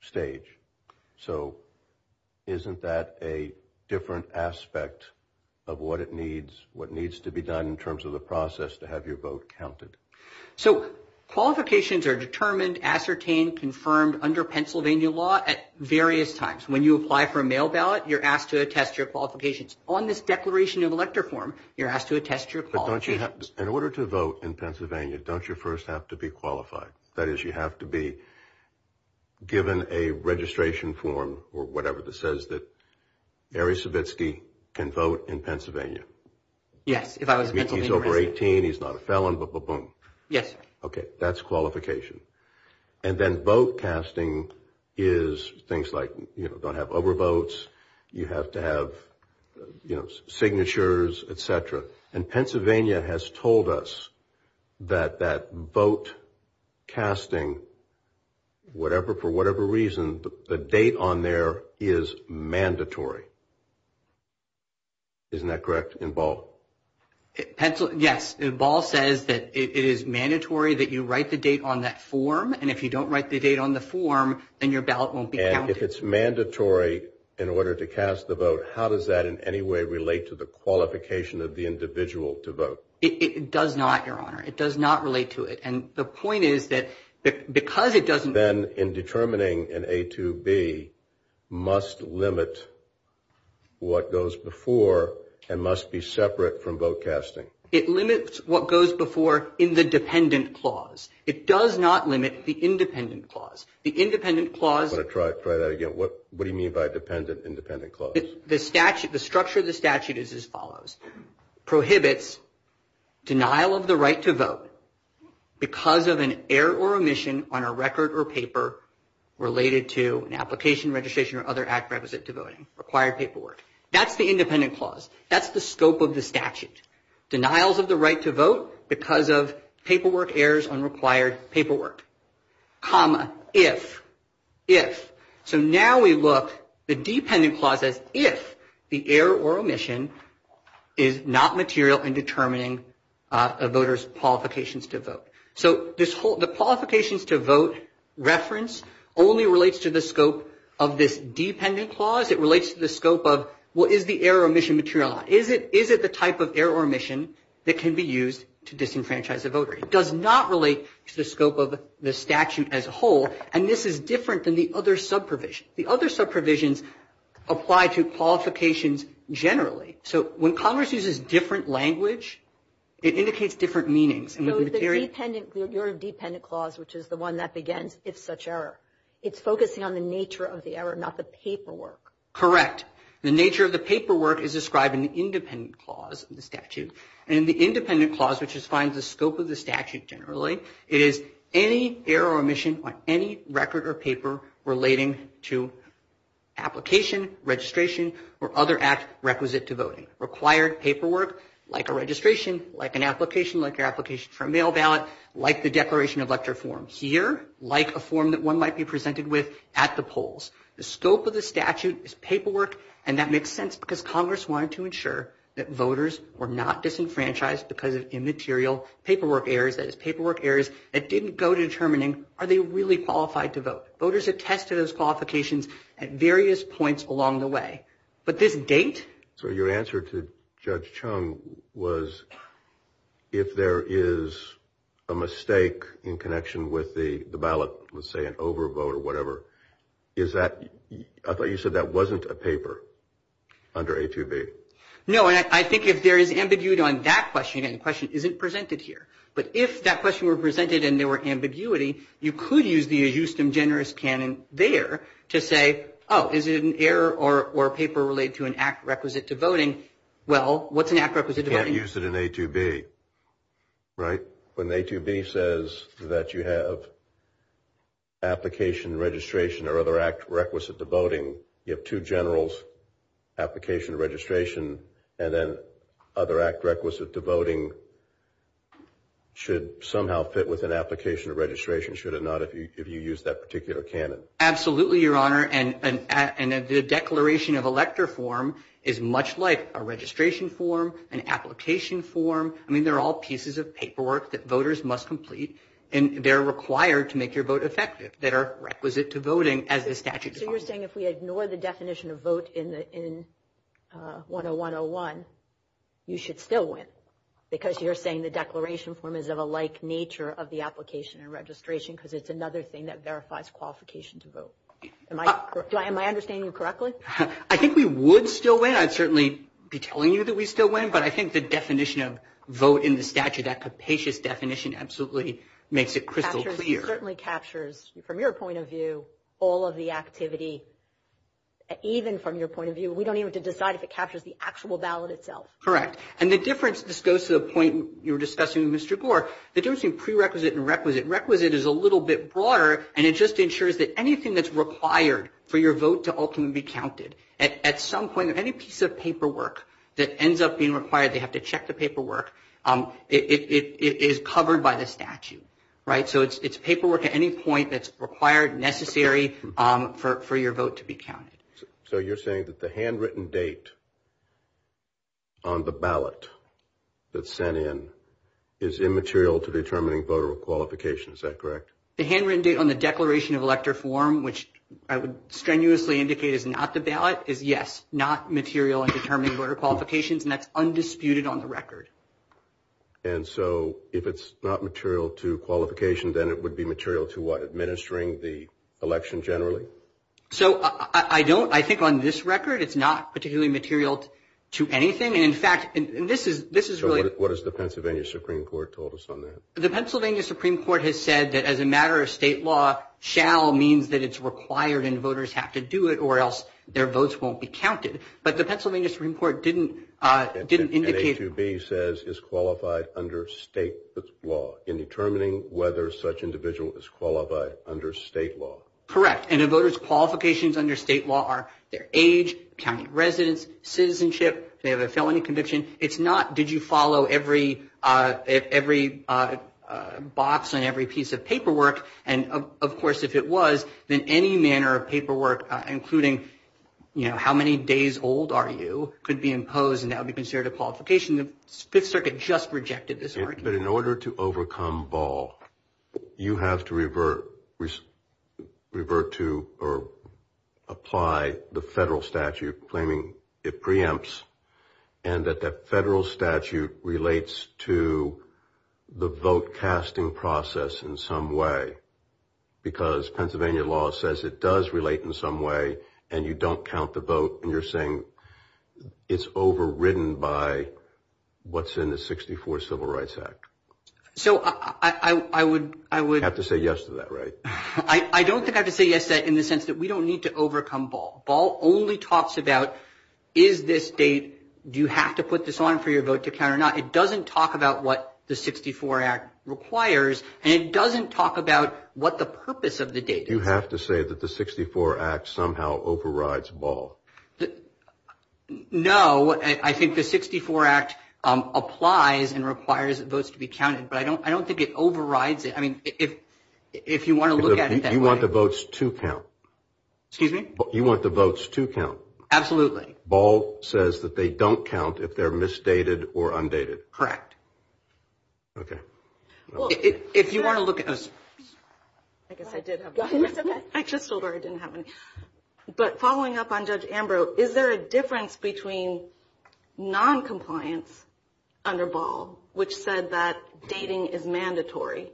stage. So isn't that a different aspect of what it needs, what needs to be done in terms of the process to have your vote counted? So qualifications are determined, ascertained, confirmed under Pennsylvania law at various times. When you apply for a mail ballot, you're asked to attest your qualifications. On this declaration in elector form, you're asked to attest your qualifications. In order to vote in Pennsylvania, don't you first have to be qualified? That is, you have to be given a registration form or whatever that says that Mary Savitsky can vote in Pennsylvania. Yes. If he's over 18, he's not a felon, blah, blah, blah. Yes. Okay. That's qualification. And then vote casting is things like, you know, don't have overvotes. You have to have, you know, signatures, et cetera. And Pennsylvania has told us that that vote casting, whatever, for whatever reason, the date on there is mandatory. Isn't that correct in Ball? Yes. Ball says that it is mandatory that you write the date on that form. And if you don't write the date on the form, then your ballot won't be counted. If it's mandatory in order to cast the vote, how does that in any way relate to the qualification of the individual to vote? It does not, Your Honor. It does not relate to it. And the point is that because it doesn't. Then in determining an A2B must limit what goes before and must be separate from vote casting. It limits what goes before in the dependent clause. It does not limit the independent clause. I'm going to try that again. What do you mean by dependent, independent clause? The structure of the statute is as follows. Prohibits denial of the right to vote because of an error or omission on a record or paper related to an application, registration, or other act requisite to voting. Required paperwork. That's the independent clause. That's the scope of the statute. Denials of the right to vote because of paperwork errors on required paperwork. Comma, if, if. So now we look at the dependent clause as if the error or omission is not material in determining a voter's qualifications to vote. So the qualifications to vote reference only relates to the scope of this dependent clause. It relates to the scope of what is the error or omission material. Is it the type of error or omission that can be used to disenfranchise a voter? It does not relate to the scope of the statute as a whole, and this is different than the other sub-provisions. The other sub-provisions apply to qualifications generally. So when Congress uses different language, it indicates different meanings. So it's the dependent, your dependent clause, which is the one that begins, if such error. It's focusing on the nature of the error, not the paperwork. The nature of the paperwork is described in the independent clause in the statute. And in the independent clause, which defines the scope of the statute generally, it is any error or omission on any record or paper relating to application, registration, or other act requisite to voting. Required paperwork, like a registration, like an application, like your application for a mail ballot, like the declaration of lecture form. Here, like a form that one might be presented with at the polls. The scope of the statute is paperwork, and that makes sense because Congress wanted to ensure that voters were not disenfranchised because of immaterial paperwork errors. That is, paperwork errors that didn't go to determining, are they really qualified to vote? Voters attested those qualifications at various points along the way. But this date? So your answer to Judge Chung was, if there is a mistake in connection with the ballot, let's say an overvote or whatever, is that, I thought you said that wasn't a paper under A2B. No, and I think if there is ambiguity on that question, and the question isn't presented here, but if that question were presented and there were ambiguity, you could use the Houston generous canon there to say, oh, is it an error or paper related to an act requisite to voting? Well, what's an act requisite to voting? You can't use it in A2B, right? When A2B says that you have application, registration, or other act requisite to voting, you have two generals, application, registration, and then other act requisite to voting should somehow fit with an application or registration, should it not, if you use that particular canon? Absolutely, Your Honor, and the declaration of elector form is much like a registration form, an application form. I mean, they're all pieces of paperwork that voters must complete, and they're required to make your vote effective, that are requisite to voting as a statute. So you're saying if we ignore the definition of vote in 101-01, you should still win because you're saying the declaration form is of a like nature of the application and registration because it's another thing that verifies qualification to vote. Am I understanding you correctly? I think we would still win. I'd certainly be telling you that we'd still win, but I think the definition of vote in the statute, that capacious definition absolutely makes it crystal clear. It certainly captures, from your point of view, all of the activity. Even from your point of view, we don't even have to decide if it captures the actual ballot itself. Correct. And the difference, this goes to the point you were discussing with Mr. Gore, the difference between prerequisite and requisite, requisite is a little bit broader, and it just ensures that anything that's required for your vote to ultimately be counted, at some point, any piece of paperwork that ends up being required, they have to check the paperwork, it is covered by the statute. So it's paperwork at any point that's required, necessary for your vote to be counted. So you're saying that the handwritten date on the ballot that's sent in is immaterial to determining voter qualification, is that correct? The handwritten date on the declaration of elector form, which I would strenuously indicate is not the ballot, is yes, not material in determining voter qualifications, and that's undisputed on the record. And so if it's not material to qualification, then it would be material to what, administering the election generally? So I don't, I think on this record, it's not particularly material to anything. And in fact, and this is, this is really. What is the Pennsylvania Supreme Court told us on that? The Pennsylvania Supreme Court has said that as a matter of state law, shall means that it's required and voters have to do it or else their votes won't be counted. But the Pennsylvania Supreme Court didn't, didn't indicate. It says is qualified under state law in determining whether such individual is qualified under state law. Correct. And a voter's qualifications under state law are their age, county residence, citizenship, they have a felony conviction. It's not, did you follow every, every box and every piece of paperwork? And of course, if it was, then any manner of paperwork, including, you know, how many days old are you could be imposed, and that would be considered a qualification. The Fifth Circuit just rejected this argument. But in order to overcome ball, you have to revert, revert to or apply the federal statute claiming it preempts. And that that federal statute relates to the vote casting process in some way. Because Pennsylvania law says it does relate in some way and you don't count the vote and you're saying it's overridden by what's in the 64 Civil Rights Act. So I would, I would have to say yes to that, right? I don't think I could say yes that in the sense that we don't need to overcome ball. Ball only talks about is this date. Do you have to put this on for your vote to count or not? It doesn't talk about what the 64 Act requires. And it doesn't talk about what the purpose of the date. You have to say that the 64 Act somehow overrides ball. No, I think the 64 Act applies and requires those to be counted. But I don't I don't think it overrides it. I mean, if if you want to look at it, you want the votes to count. You want the votes to count. Absolutely. Ball says that they don't count if they're misdated or undated. Correct. OK, well, if you want to look at. I guess I did. I just told her I didn't have any. But following up on Judge Ambrose, is there a difference between noncompliance under ball, which said that dating is mandatory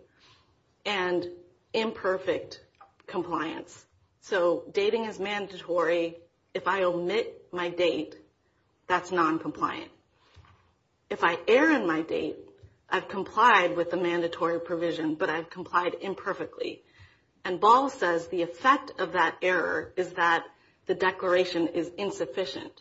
and imperfect compliance? So dating is mandatory. If I omit my date, that's noncompliant. If I err in my date, I've complied with the mandatory provision, but I've complied imperfectly. And ball says the effect of that error is that the declaration is insufficient.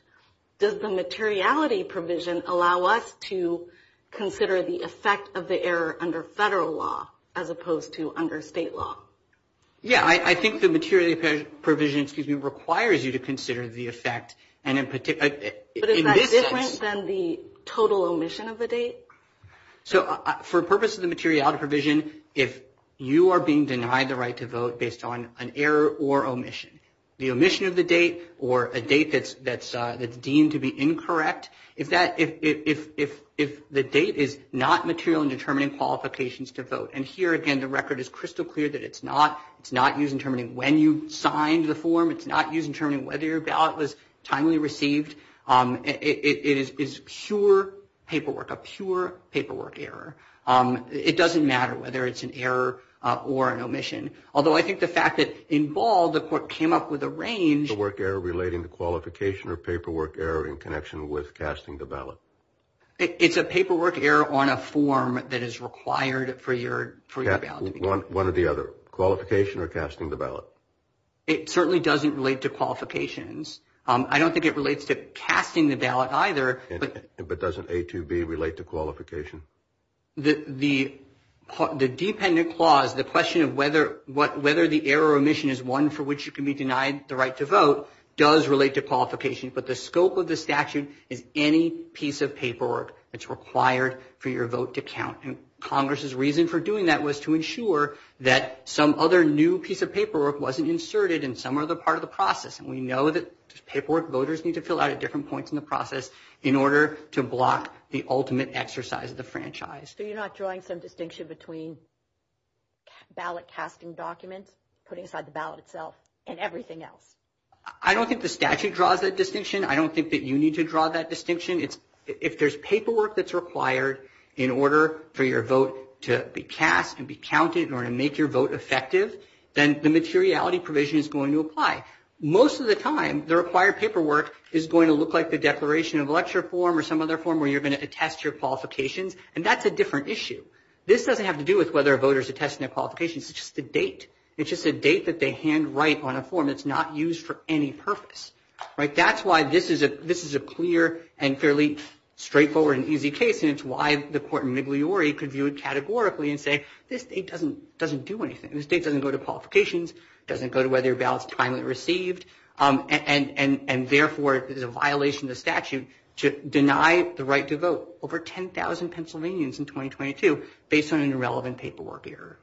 Does the materiality provision allow us to consider the effect of the error under federal law as opposed to under state law? Yeah, I think the materiality provision requires you to consider the effect. But is that different than the total omission of the date? So for purposes of the materiality provision, if you are being denied the right to vote based on an error or omission, the omission of the date or a date that's deemed to be incorrect, if the date is not material in determining qualifications to vote. And here again, the record is crystal clear that it's not. It's not used in determining when you signed the form. It's not used in determining whether your ballot was timely received. It is pure paperwork, a pure paperwork error. It doesn't matter whether it's an error or an omission. Although I think the fact that in ball, the court came up with a range. Paperwork error relating to qualification or paperwork error in connection with casting the ballot. It's a paperwork error on a form that is required for your ballot. One or the other. Qualification or casting the ballot. It certainly doesn't relate to qualifications. I don't think it relates to casting the ballot either. But doesn't A2B relate to qualification? The dependent clause, the question of whether the error or omission is one for which you can be denied the right to vote, does relate to qualifications. But the scope of the statute is any piece of paperwork that's required for your vote to count. And Congress's reason for doing that was to ensure that some other new piece of paperwork wasn't inserted and some are the part of the process. And we know that paperwork voters need to fill out at different points in the process in order to block the ultimate exercise of the franchise. So you're not drawing some distinction between ballot casting documents, putting aside the ballot itself, and everything else? I don't think the statute draws that distinction. I don't think that you need to draw that distinction. If there's paperwork that's required in order for your vote to be cast and be counted in order to make your vote effective, then the materiality provision is going to apply. Most of the time, the required paperwork is going to look like the declaration of election form or some other form where you're going to attest your qualifications. And that's a different issue. This doesn't have to do with whether a voter is attesting their qualifications. It's just a date. It's just a date that they handwrite on a form that's not used for any purpose. That's why this is a clear and fairly straightforward and easy case. And it's why the court in Migliore could view it categorically and say, this state doesn't do anything. This state doesn't go to qualifications, doesn't go to whether a ballot is timely received. And therefore, it is a violation of the statute to deny the right to vote. Over 10,000 Pennsylvanians in 2022 based on an irrelevant paperwork error.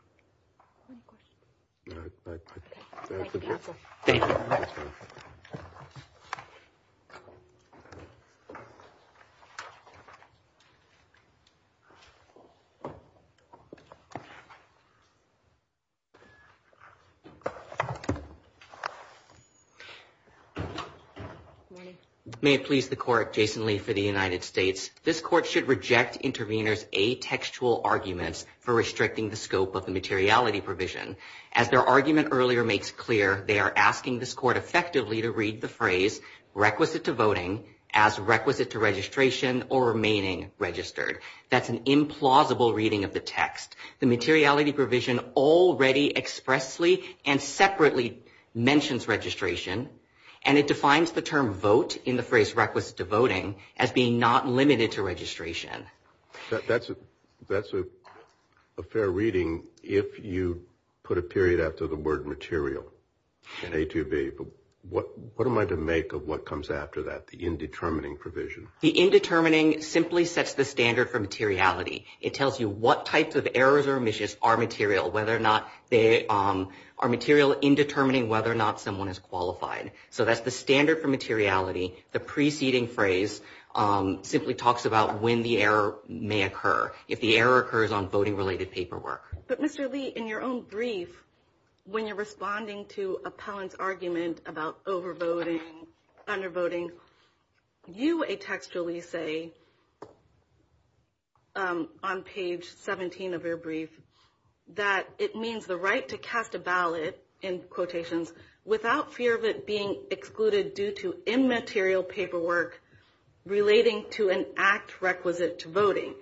May it please the court, Jason Lee for the United States. This court should reject intervener's atextual argument for restricting the scope of the materiality provision. As their argument earlier makes clear, they are asking this court effectively to read the phrase requisite to voting as requisite to registration or remaining registered. That's an implausible reading of the text. The materiality provision already expressly and separately mentions registration. And it defines the term vote in the phrase requisite to voting as being not limited to registration. That's a fair reading if you put a period after the word material in A2B. But what am I to make of what comes after that, the indetermining provision? The indetermining simply sets the standard for materiality. It tells you what types of errors or omissions are material, whether or not they are material in determining whether or not someone is qualified. So that's the standard for materiality. The preceding phrase simply talks about when the error may occur. If the error occurs on voting related paperwork. But Mr. Lee, in your own brief, when you're responding to appellant's argument about overvoting, undervoting, you atextually say on page 17 of your brief that it means the right to cast a ballot, in quotations, without fear of it being excluded due to immaterial paperwork relating to an act requisite to voting.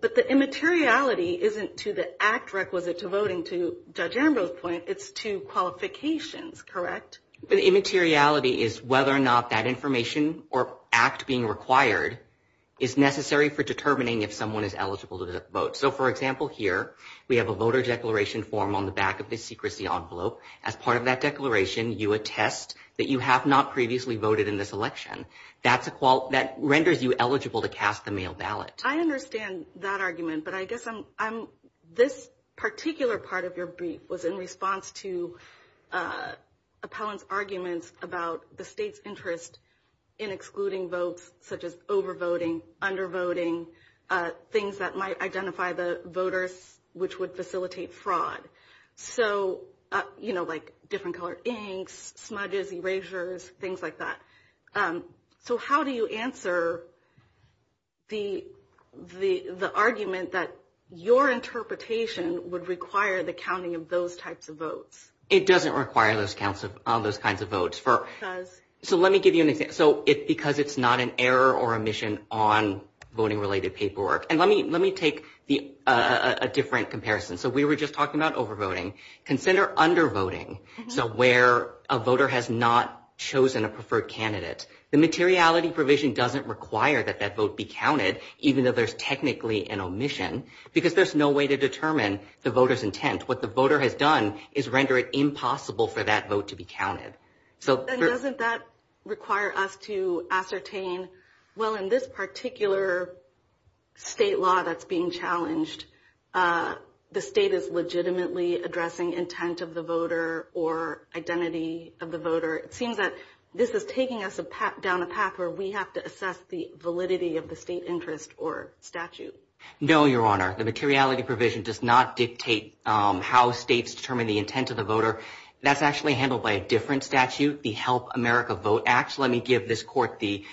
But the immateriality isn't to the act requisite to voting, to Judge Arambo's point, it's to qualifications, correct? The immateriality is whether or not that information or act being required is necessary for determining if someone is eligible to vote. So for example here, we have a voter declaration form on the back of this secrecy envelope. As part of that declaration, you atest that you have not previously voted in this election. That renders you eligible to cast the mail ballot. I understand that argument, but I guess this particular part of your brief was in response to appellant's argument about the state's interest in excluding votes such as overvoting, undervoting, things that might identify the voters which would facilitate fraud. So, you know, like different color inks, smudges, erasers, things like that. So how do you answer the argument that your interpretation would require the counting of those types of votes? It doesn't require those kinds of votes. So let me give you an example. So it's because it's not an error or omission on voting related paperwork. And let me take a different comparison. So we were just talking about overvoting. Consider undervoting, so where a voter has not chosen a preferred candidate. The materiality provision doesn't require that that vote be counted, even though there's technically an omission, because there's no way to determine the voter's intent. What the voter has done is render it impossible for that vote to be counted. And doesn't that require us to ascertain, well, in this particular state law that's being challenged, the state is legitimately addressing intent of the voter or identity of the voter? It seems that this is taking us down a path where we have to assess the validity of the state interest or statute. No, Your Honor. The materiality provision does not dictate how states determine the intent of the voter. That's actually handled by a different statute, the Help America Vote Act. Let me give this court the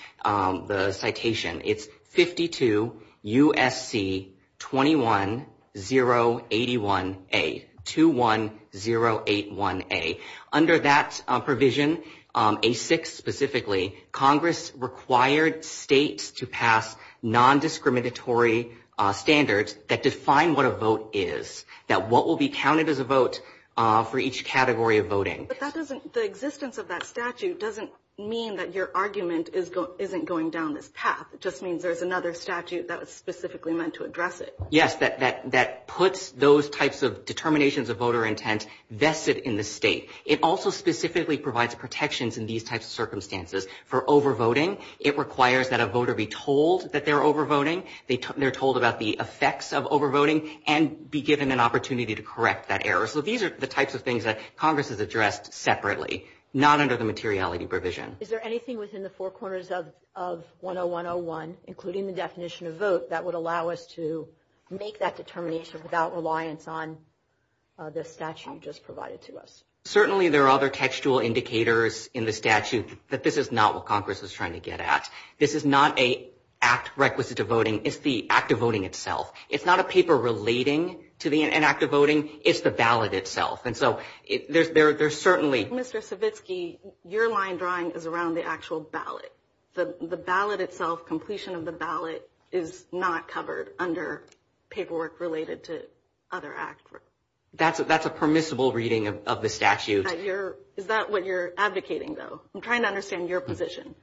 citation. It's 52 U.S.C. 21081A, 21081A. Under that provision, A6 specifically, Congress required states to pass nondiscriminatory standards that define what a vote is, that what will be counted as a vote for each category of voting. But that doesn't – the existence of that statute doesn't mean that your argument isn't going down this path. It just means there's another statute that was specifically meant to address it. Yes, that puts those types of determinations of voter intent vested in the state. It also specifically provides protections in these types of circumstances for overvoting. It requires that a voter be told that they're overvoting. They're told about the effects of overvoting and be given an opportunity to correct that error. So these are the types of things that Congress has addressed separately, not under the materiality provision. Is there anything within the four corners of 10101, including the definition of vote, that would allow us to make that determination without reliance on the statute just provided to us? Certainly there are other textual indicators in the statute that this is not what Congress is trying to get at. This is not an act requisite to voting. It's the act of voting itself. It's not a paper relating to an act of voting. It's the ballot itself. And so there's certainly – your line, Brian, is around the actual ballot. The ballot itself, completion of the ballot, is not covered under paperwork related to other acts. That's a permissible reading of the statute. Is that what you're advocating, though? I'm trying to understand your position.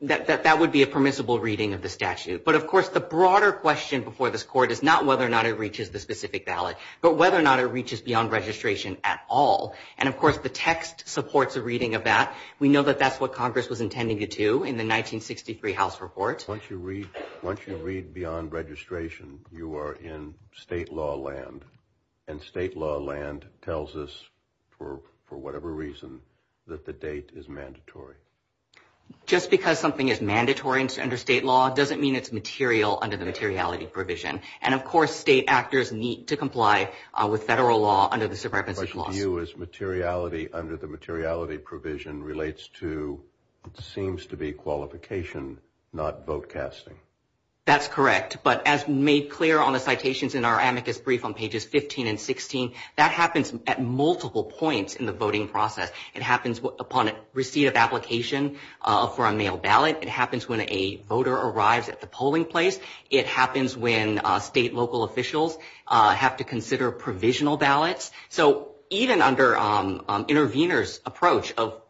That would be a permissible reading of the statute. But, of course, the broader question before this Court is not whether or not it reaches the specific ballot, but whether or not it reaches beyond registration at all. And, of course, the text supports a reading of that. We know that that's what Congress was intending to do in the 1963 House report. Once you read beyond registration, you are in state law land. And state law land tells us, for whatever reason, that the date is mandatory. Just because something is mandatory under state law doesn't mean it's material under the materiality provision. And, of course, state actors need to comply with federal law under the Supremacy Law. My view is materiality under the materiality provision relates to what seems to be qualification, not vote casting. That's correct. But as made clear on the citations in our amicus brief on pages 15 and 16, that happens at multiple points in the voting process. It happens upon receipt of application for a mail ballot. It happens when a voter arrives at the polling place. It happens when state and local officials have to consider provisional ballots. So even under interveners' approach of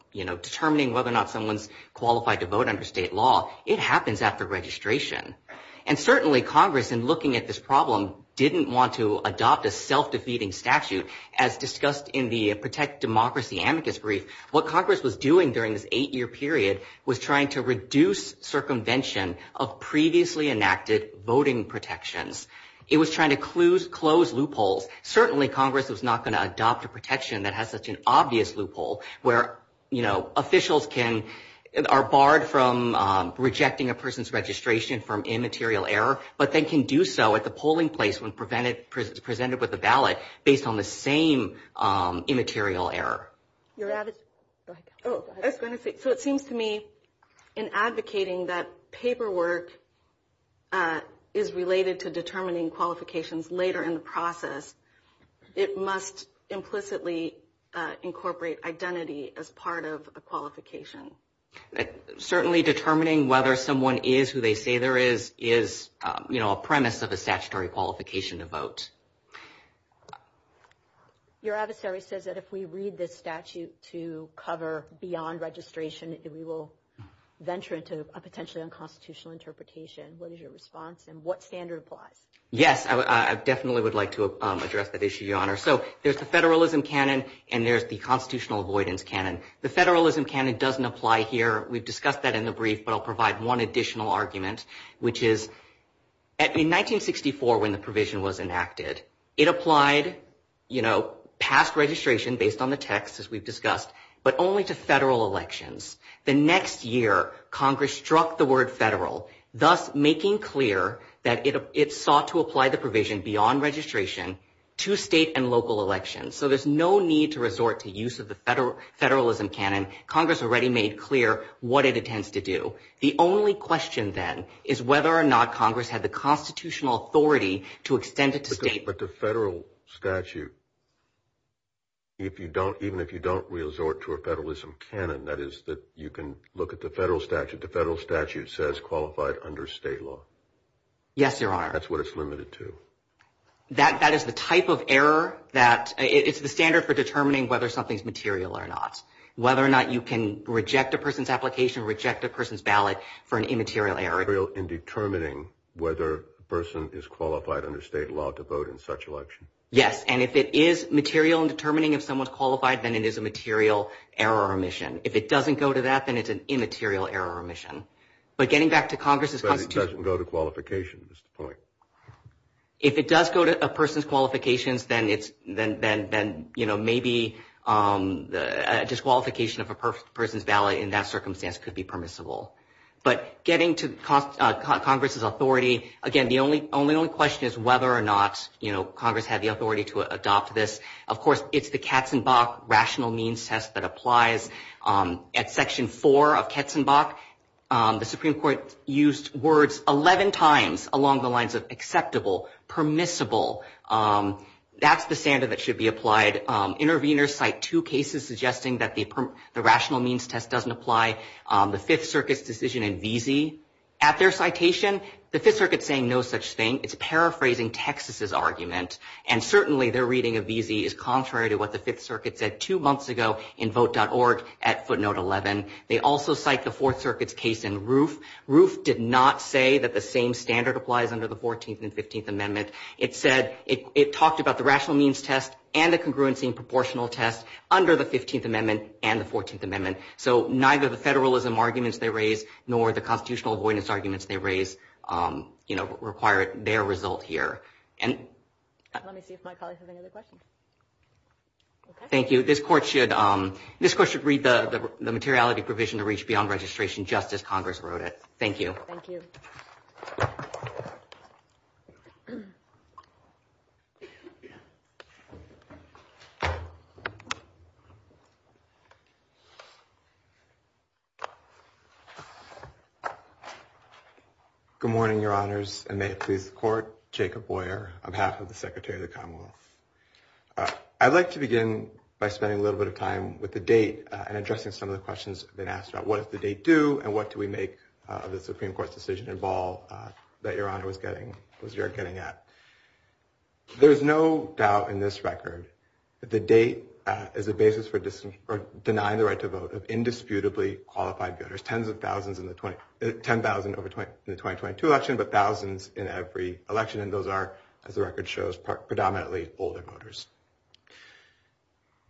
determining whether or not someone's qualified to vote under state law, it happens after registration. And certainly Congress, in looking at this problem, didn't want to adopt a self-defeating statute as discussed in the Protect Democracy amicus brief. What Congress was doing during this eight-year period was trying to reduce circumvention of previously enacted voting protections. It was trying to close loopholes. Certainly Congress is not going to adopt a protection that has such an obvious loophole where, you know, officials are barred from rejecting a person's registration from immaterial error, but they can do so at the polling place when presented with a ballot based on the same immaterial error. So it seems to me in advocating that paperwork is related to determining qualifications later in the process, it must implicitly incorporate identity as part of a qualification. Certainly determining whether someone is who they say they are is, you know, a premise of a statutory qualification to vote. Your adversary says that if we read this statute to cover beyond registration, that we will venture into a potentially unconstitutional interpretation. What is your response, and what standard applies? Yes, I definitely would like to address that issue, Your Honor. So there's the federalism canon, and there's the constitutional avoidance canon. The federalism canon doesn't apply here. We've discussed that in the brief, but I'll provide one additional argument, which is in 1964 when the provision was enacted, it applied, you know, past registration based on the text, as we've discussed, but only to federal elections. The next year, Congress struck the word federal, thus making clear that it sought to apply the provision beyond registration to state and local elections. So there's no need to resort to use of the federalism canon. Congress already made clear what it intends to do. The only question then is whether or not Congress had the constitutional authority to extend it to state. But the federal statute, even if you don't resort to a federalism canon, that is that you can look at the federal statute. The federal statute says qualified under state law. Yes, Your Honor. That's what it's limited to. That is the type of error that is the standard for determining whether something's material or not, whether or not you can reject a person's application, reject a person's ballot for an immaterial error. Material in determining whether a person is qualified under state law to vote in such an election. Yes. And if it is material in determining if someone's qualified, then it is a material error or omission. If it doesn't go to that, then it's an immaterial error or omission. But getting back to Congress's- But it doesn't go to qualifications at this point. If it does go to a person's qualifications, then maybe a disqualification of a person's ballot in that circumstance could be permissible. But getting to Congress's authority, again, the only question is whether or not Congress had the authority to adopt this. Of course, it's the Katzenbach rational means test that applies. At Section 4 of Katzenbach, the Supreme Court used words 11 times along the lines of acceptable, permissible. That's the standard that should be applied. Interveners cite two cases suggesting that the rational means test doesn't apply. The Fifth Circuit's decision in Veazey, at their citation, the Fifth Circuit's saying no such thing. It's paraphrasing Texas's argument. And certainly their reading of Veazey is contrary to what the Fifth Circuit said two months ago in Vote.org at footnote 11. They also cite the Fourth Circuit's case in Roof. Roof did not say that the same standard applies under the 14th and 15th Amendment. It talked about the rational means test and a congruency and proportional test under the 15th Amendment and the 14th Amendment. So neither the federalism arguments they raised nor the constitutional avoidance arguments they raised required their result here. Let me see if my colleagues have any other questions. Thank you. This Court should read the materiality provision to reach beyond registration just as Congress wrote it. Thank you. Thank you. Good morning, Your Honors. And may it please the Court, Jacob Boyer, on behalf of the Secretary of the Commonwealth. I'd like to begin by spending a little bit of time with the date and addressing some of the questions that have been asked about what does the date do and what do we make of the Supreme Court's decision to involve the Supreme Court? There's no doubt in this record that the date is the basis for denying the right to vote of indisputably qualified voters. Tens of thousands, 10,000 in the 2022 election, but thousands in every election. And those are, as the record shows, predominantly older voters.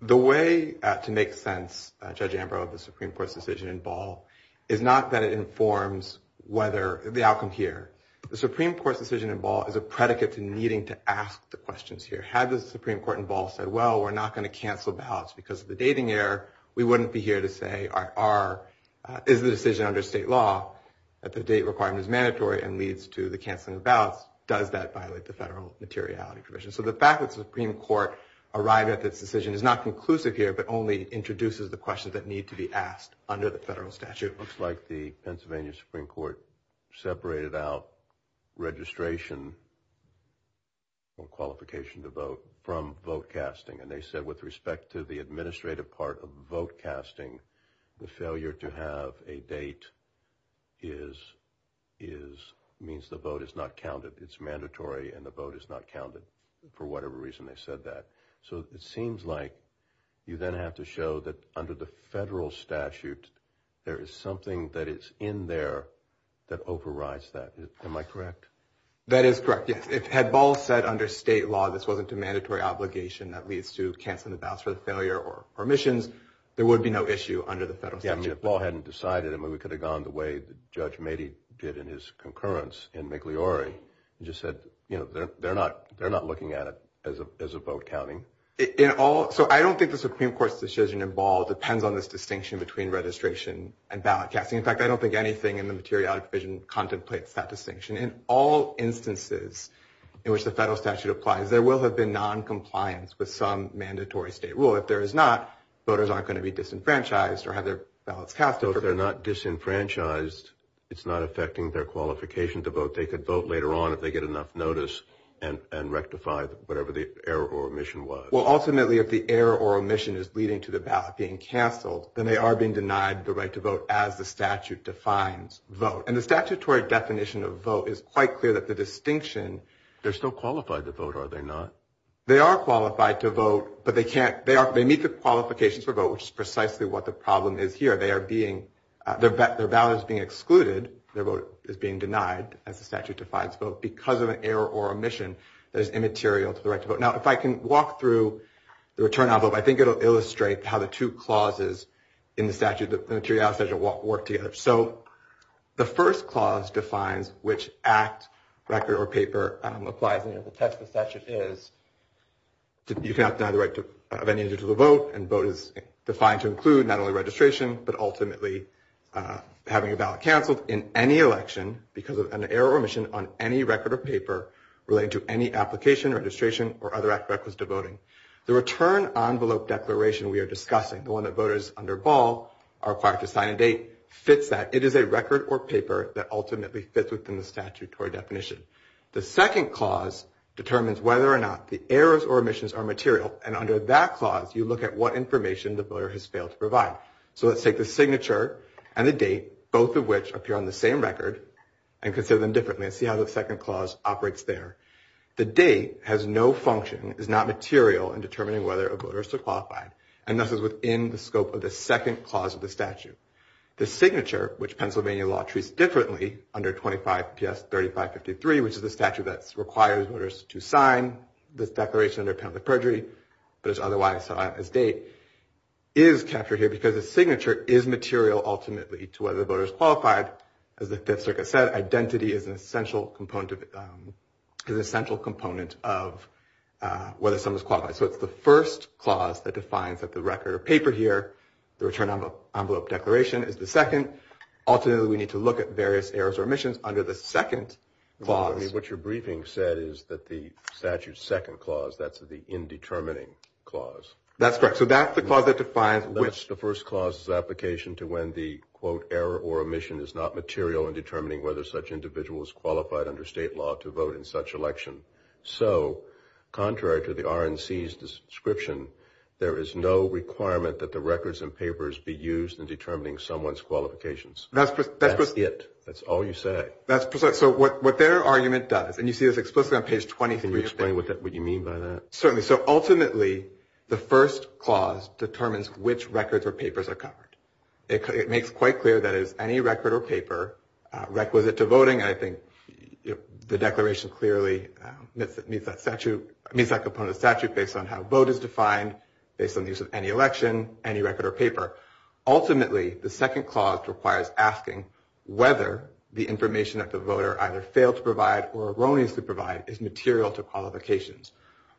The way to make sense, Judge Ambrose, of the Supreme Court's decision to involve is not that it informs the outcome here. The Supreme Court's decision to involve is a predicate to needing to ask the questions here. Had the Supreme Court involved said, well, we're not going to cancel ballots because of the dating error, we wouldn't be here to say, is the decision under state law that the date requirement is mandatory and leads to the canceling of ballots? Does that violate the federal materiality provision? So the fact that the Supreme Court arrived at this decision is not conclusive here, but only introduces the questions that need to be asked under the federal statute. Looks like the Pennsylvania Supreme Court separated out registration or qualification to vote from vote casting. And they said with respect to the administrative part of vote casting, the failure to have a date means the vote is not counted. It's mandatory and the vote is not counted for whatever reason they said that. So it seems like you then have to show that under the federal statute, there is something that is in there that overrides that. Am I correct? That is correct. Had Ball said under state law, this wasn't a mandatory obligation that leads to canceling the ballots for the failure or permissions, there would be no issue under the federal statute. If Ball hadn't decided, we could have gone the way Judge Mady did in his concurrence in Migliore. He just said, you know, they're not looking at it as a vote counting. So I don't think the Supreme Court's decision in Ball depends on this distinction between registration and ballot casting. In fact, I don't think anything in the materiality provision contemplates that distinction. In all instances in which the federal statute applies, there will have been noncompliance with some mandatory state rule. If there is not, voters aren't going to be disenfranchised or have their ballots cast over. So if they're not disenfranchised, it's not affecting their qualification to vote. They could vote later on if they get enough notice and rectify whatever the error or omission was. Well, ultimately, if the error or omission is leading to the ballot being canceled, then they are being denied the right to vote as the statute defines vote. And the statutory definition of vote is quite clear that the distinction – They're still qualified to vote, are they not? They are qualified to vote, but they need the qualifications for vote, which is precisely what the problem is here. They are being – their ballot is being excluded. Their vote is being denied as the statute defines vote because of an error or omission that is immaterial to the right to vote. Now, if I can walk through the return on vote, I think it will illustrate how the two clauses in the materiality statute work together. So the first clause defines which act, record, or paper applies under the text of the statute is. You have the right of any individual to vote, and vote is defined to include not only registration, but ultimately having a ballot canceled in any election because of an error or omission on any record or paper related to any application, registration, or other aspect with devoting. The return on vote declaration we are discussing, the one that voters undervolve are required to sign a date, fits that. It is a record or paper that ultimately fits within the statutory definition. The second clause determines whether or not the errors or omissions are material, and under that clause you look at what information the voter has failed to provide. So let's take the signature and the date, both of which appear on the same record, and consider them differently and see how the second clause operates there. The date has no function, is not material in determining whether a voter is qualified, and thus is within the scope of the second clause of the statute. The signature, which Pennsylvania law treats differently under 25 PS 3553, which is the statute that requires voters to sign the declaration in account of the perjury, but is otherwise set out as date, is captured here because the signature is material ultimately to whether the voter is qualified. But as the district has said, identity is an essential component of whether someone is qualified. So it's the first clause that defines that the record or paper here, the return on vote declaration is the second. Ultimately, we need to look at various errors or omissions under the second clause. What your briefing said is that the statute's second clause, that's the indeterminate clause. That's correct. That's the first clause of the application to when the, quote, error or omission is not material in determining whether such individuals qualified under state law to vote in such election. So contrary to the RNC's description, there is no requirement that the records and papers be used in determining someone's qualifications. That's it. That's all you say. So what their argument does, and you see this explicitly on page 23 of the statute. Can you explain what you mean by that? Certainly. So ultimately, the first clause determines which records or papers are covered. It makes quite clear that any record or paper requisite to voting, I think, the declaration clearly meets that component of statute based on how vote is defined, based on the use of any election, any record or paper. Ultimately, the second clause requires asking whether the information that the voter either failed to provide or erroneously provides is material to qualifications.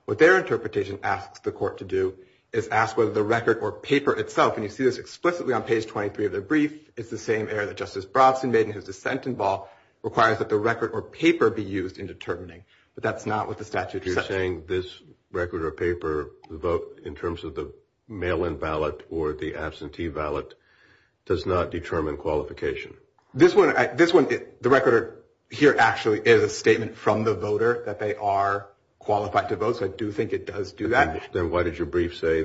What their interpretation asks the court to do is ask whether the record or paper itself, and you see this explicitly on page 23 of the brief. It's the same error that Justice Bronson made in his dissent involved, requires that the record or paper be used in determining. But that's not what the statute does. You're saying this record or paper vote in terms of the mail-in ballot or the absentee ballot does not determine qualification. This one, the record here actually is a statement from the voter that they are qualified to vote. So I do think it does do that. Then what does your brief say?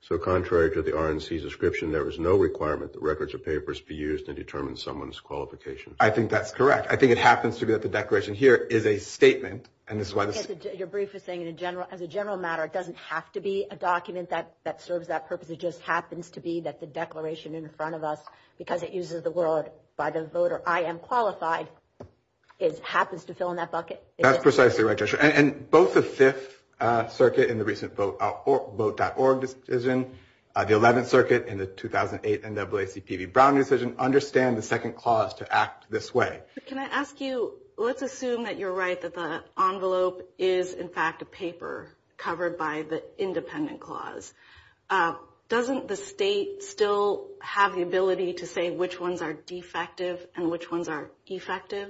So contrary to the RNC's description, there is no requirement that records or papers be used to determine someone's qualification. I think that's correct. I think it happens to be that the declaration here is a statement. Your brief is saying as a general matter, it doesn't have to be a document that serves that purpose. It just happens to be that the declaration in front of us, because it uses the word by the voter, I am qualified, it happens to fill in that bucket. That's precisely right, Tricia. And both the Fifth Circuit in the recent Vote.org decision, the Eleventh Circuit in the 2008 NAACP Browning decision, understand the second clause to act this way. Can I ask you, let's assume that you're right, that the envelope is, in fact, a paper covered by the independent clause. Doesn't the state still have the ability to say which ones are defective and which ones are effective?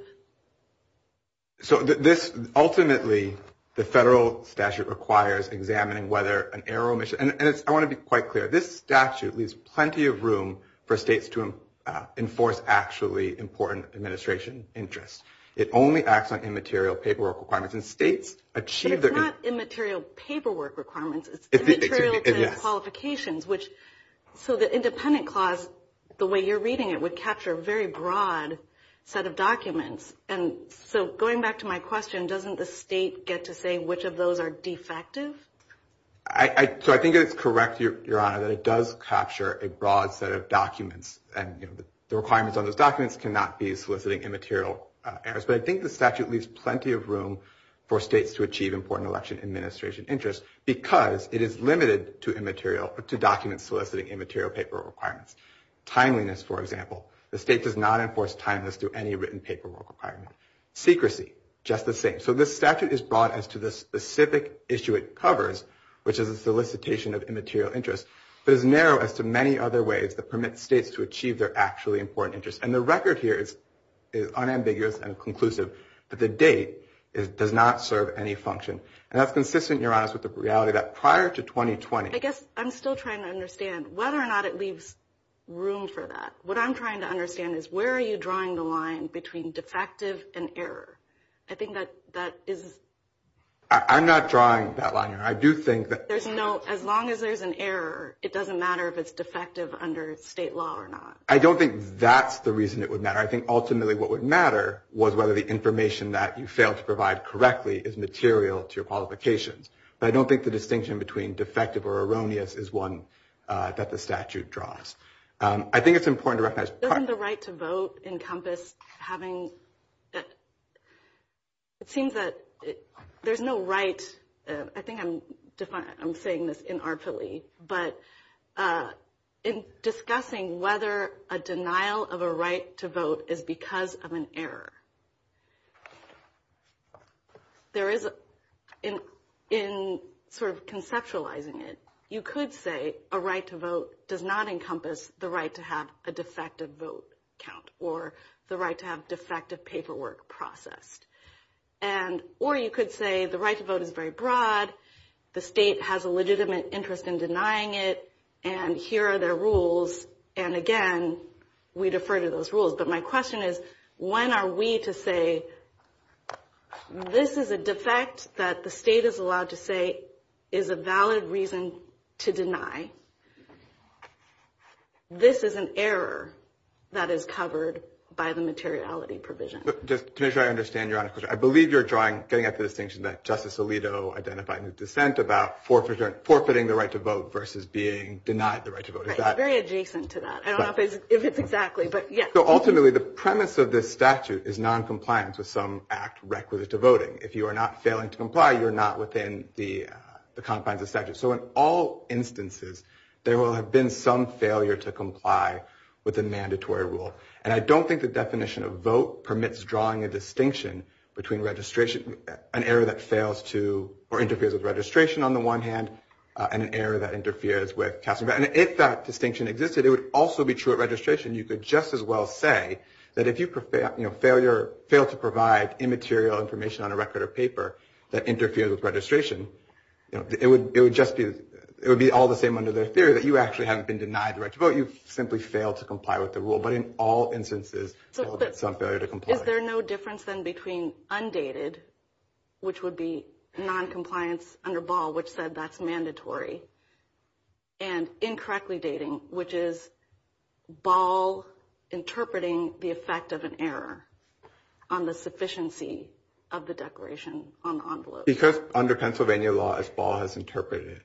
So this, ultimately, the federal statute requires examining whether an error, and I want to be quite clear, this statute leaves plenty of room for states to enforce actually important administration interests. It only acts on immaterial paperwork requirements. It's not immaterial paperwork requirements. It's immaterial qualifications. So the independent clause, the way you're reading it, would capture a very broad set of documents. So going back to my question, doesn't the state get to say which of those are defective? So I think it's correct, Your Honor, that it does capture a broad set of documents, and the requirements on those documents cannot be soliciting immaterial errors. But I think the statute leaves plenty of room for states to achieve important election administration interests because it is limited to documents soliciting immaterial paperwork requirements. Timeliness, for example, the state does not enforce timeliness through any written paperwork requirement. Secrecy, just the same. So this statute is broad as to the specific issue it covers, which is the solicitation of immaterial interest, but it's narrow as to many other ways that permit states to achieve their actually important interests. And the record here is unambiguous and conclusive, but the date does not serve any function. And that's consistent, Your Honor, with the reality that prior to 2020. I guess I'm still trying to understand whether or not it leaves room for that. What I'm trying to understand is where are you drawing the line between defective and error? I think that is. I'm not drawing that line. I do think that. As long as there's an error, it doesn't matter if it's defective under state law or not. I don't think that's the reason it would matter. I think ultimately what would matter was whether the information that you failed to provide correctly is material to your qualifications. But I don't think the distinction between defective or erroneous is one that the statute draws. I think it's important to recognize. Doesn't the right to vote encompass having – it seems that there's no right – I think I'm saying this inartfully, but in discussing whether a denial of a right to vote is because of an error, there is – in sort of conceptualizing it, you could say a right to vote does not encompass the right to have a defective vote count or the right to have defective paperwork processed. Or you could say the right to vote is very broad, the state has a legitimate interest in denying it, and here are the rules. And, again, we defer to those rules. But my question is when are we to say this is a defect that the state is allowed to say is a valid reason to deny. This is an error that is covered by the materiality provision. But just to make sure I understand your answer, I believe you're drawing – getting at the distinction that Justice Alito identified in his dissent about forfeiting the right to vote versus being denied the right to vote. Is that – Very adjacent to that. I don't know if it's exactly, but yes. So ultimately the premise of this statute is noncompliance with some act requisite to voting. If you are not failing to comply, you're not within the confines of the statute. So in all instances, there will have been some failure to comply with a mandatory rule. And I don't think the definition of vote permits drawing a distinction between registration – an error that fails to – or interferes with registration on the one hand and an error that interferes with – and if that distinction existed, it would also be true at registration. You could just as well say that if you fail to provide immaterial information on a record or paper that interferes with registration, it would just be – it would be all the same under the theory that you actually haven't been denied the right to vote. You've simply failed to comply with the rule. But in all instances, there will be some failure to comply. Is there no difference then between undated, which would be noncompliance under Ball, which said that's mandatory, and incorrectly dating, which is Ball interpreting the effect of an error on the sufficiency of the declaration on the envelope? Because under Pennsylvania law, as Ball has interpreted it,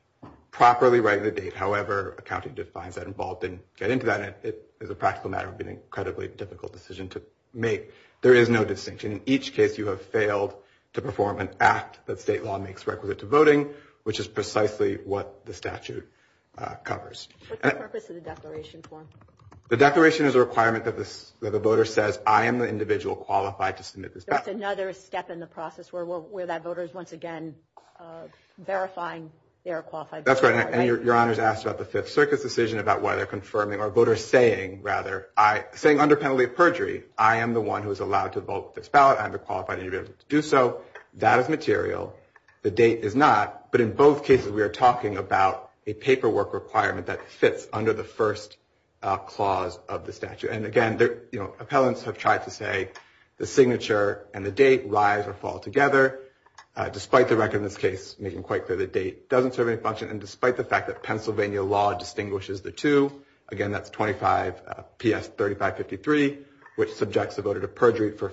properly write the date. However, accounting defines that, and Ball didn't get into that. It's a practical matter of being an incredibly difficult decision to make. There is no distinction. In each case, you have failed to perform an act that state law makes requisite to voting, which is precisely what the statute covers. What's the purpose of the declaration form? The declaration is a requirement that the voter says, I am the individual qualified to submit this document. That's another step in the process where that voter is once again verifying they are a qualified voter. That's right. And your Honor's asked about the Fifth Circuit's decision about whether confirming or voters saying, rather, saying under penalty of perjury, I am the one who is allowed to vote this ballot. I am the qualified individual to do so. That is material. The date is not. But in both cases, we are talking about a paperwork requirement that fits under the first clause of the statute. And, again, appellants have tried to say the signature and the date rise or fall together, despite the record in this case making quite clear the date doesn't serve any function, and despite the fact that Pennsylvania law distinguishes the two. Again, that's 25 PS 3553, which subjects the voter to perjury for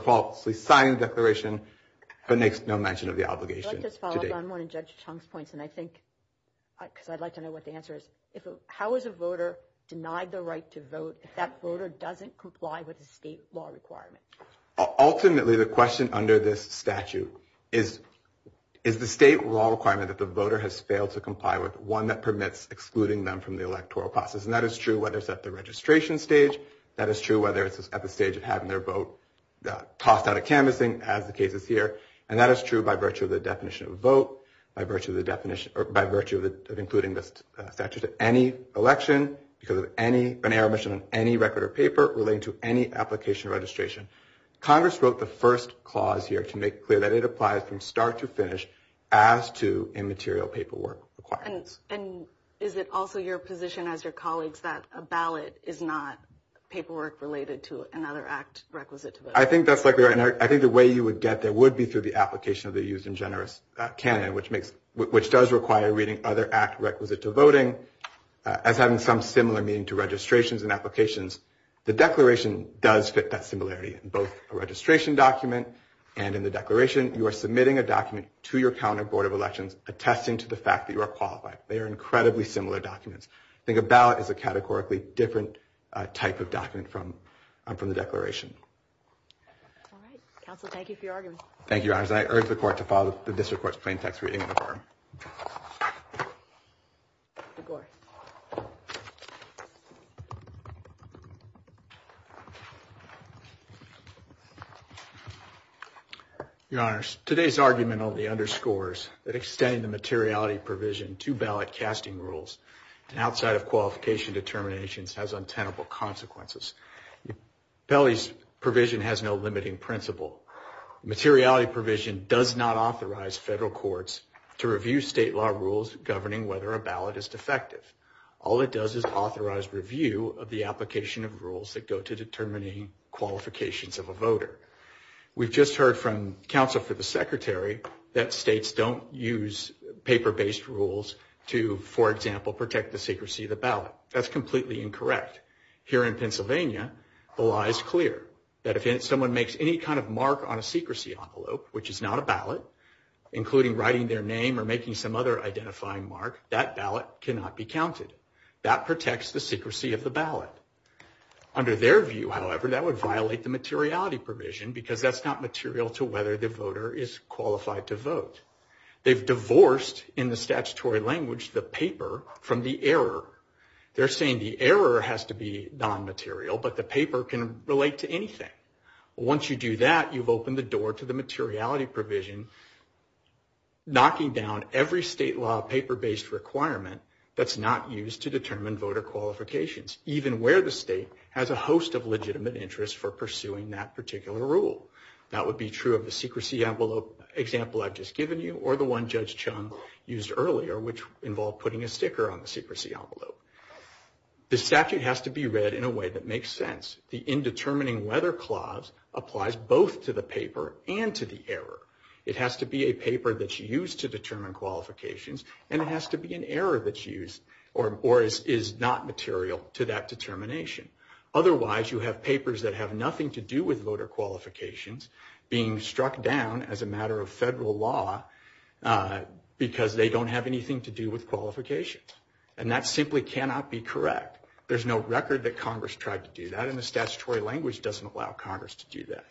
falsely signing the declaration, but makes no mention of the obligation. Let's just follow up on one of Judge Chung's points, because I'd like to know what the answer is. How is a voter denied the right to vote if that voter doesn't comply with a state law requirement? Ultimately, the question under this statute is, is the state law requirement that the voter has failed to comply with one that permits excluding them from the electoral process? And that is true whether it's at the registration stage. That is true whether it's at the stage of having their vote tossed out of canvassing, as the case is here. And that is true by virtue of the definition of vote, by virtue of the definition – or by virtue of including this statute at any election, because of any – any remission of any record or paper relating to any application or registration. Congress wrote the first clause here to make clear that it applies from start to finish as to immaterial paperwork required. And is it also your position as your colleagues that a ballot is not paperwork related to another act requisite to vote? I think that's exactly right. And I think the way you would get there would be through the application of the use in generous canon, which makes – which does require reading other act requisite to voting, as having some similar meaning to registrations and applications. The declaration does fit that similarity in both a registration document and in the declaration. You are submitting a document to your county board of elections attesting to the fact that you are qualified. They are incredibly similar documents. I think a ballot is a categorically different type of document from the declaration. All right. Counsel, thank you for your argument. Thank you, Your Honor. And I urge the court to follow the district court's plain text reading on the floor. Go ahead. Your Honors, today's argument only underscores that extending the materiality provision to ballot casting rules and outside of qualification determinations has untenable consequences. Belli's provision has no limiting principle. Materiality provision does not authorize federal courts to review state law rules governing whether a ballot is defective. All it does is authorize review of the application of rules that go to determining qualifications of a voter. We've just heard from counsel for the secretary that states don't use paper-based rules to, for example, protect the secrecy of the ballot. That's completely incorrect. Here in Pennsylvania, Belli is clear that if someone makes any kind of mark on a secrecy envelope, which is not a ballot, including writing their name or making some other identifying mark, that ballot cannot be counted. That protects the secrecy of the ballot. Under their view, however, that would violate the materiality provision because that's not material to whether the voter is qualified to vote. They've divorced, in the statutory language, the paper from the error. They're saying the error has to be non-material, but the paper can relate to anything. Once you do that, you've opened the door to the materiality provision, knocking down every state law paper-based requirement that's not used to determine voter qualifications, even where the state has a host of legitimate interests for pursuing that particular rule. That would be true of the secrecy envelope example I've just given you or the one Judge Chung used earlier, which involved putting a sticker on the secrecy envelope. The statute has to be read in a way that makes sense. The indetermining whether clause applies both to the paper and to the error. It has to be a paper that's used to determine qualifications, and it has to be an error that's used or is not material to that determination. Otherwise, you have papers that have nothing to do with voter qualifications being struck down as a matter of federal law because they don't have anything to do with qualifications, and that simply cannot be correct. There's no record that Congress tried to do that, and the statutory language doesn't allow Congress to do that.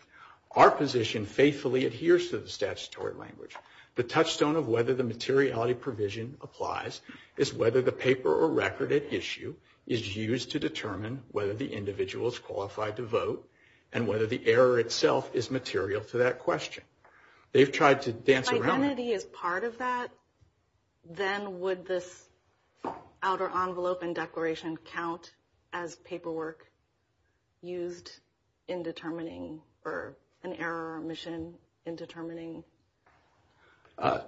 Our position faithfully adheres to the statutory language. The touchstone of whether the materiality provision applies is whether the paper or record at issue and whether the error itself is material to that question. They've tried to dance around that. Identity is part of that? Then would this outer envelope and declaration count as paperwork used in determining or an error or omission in determining?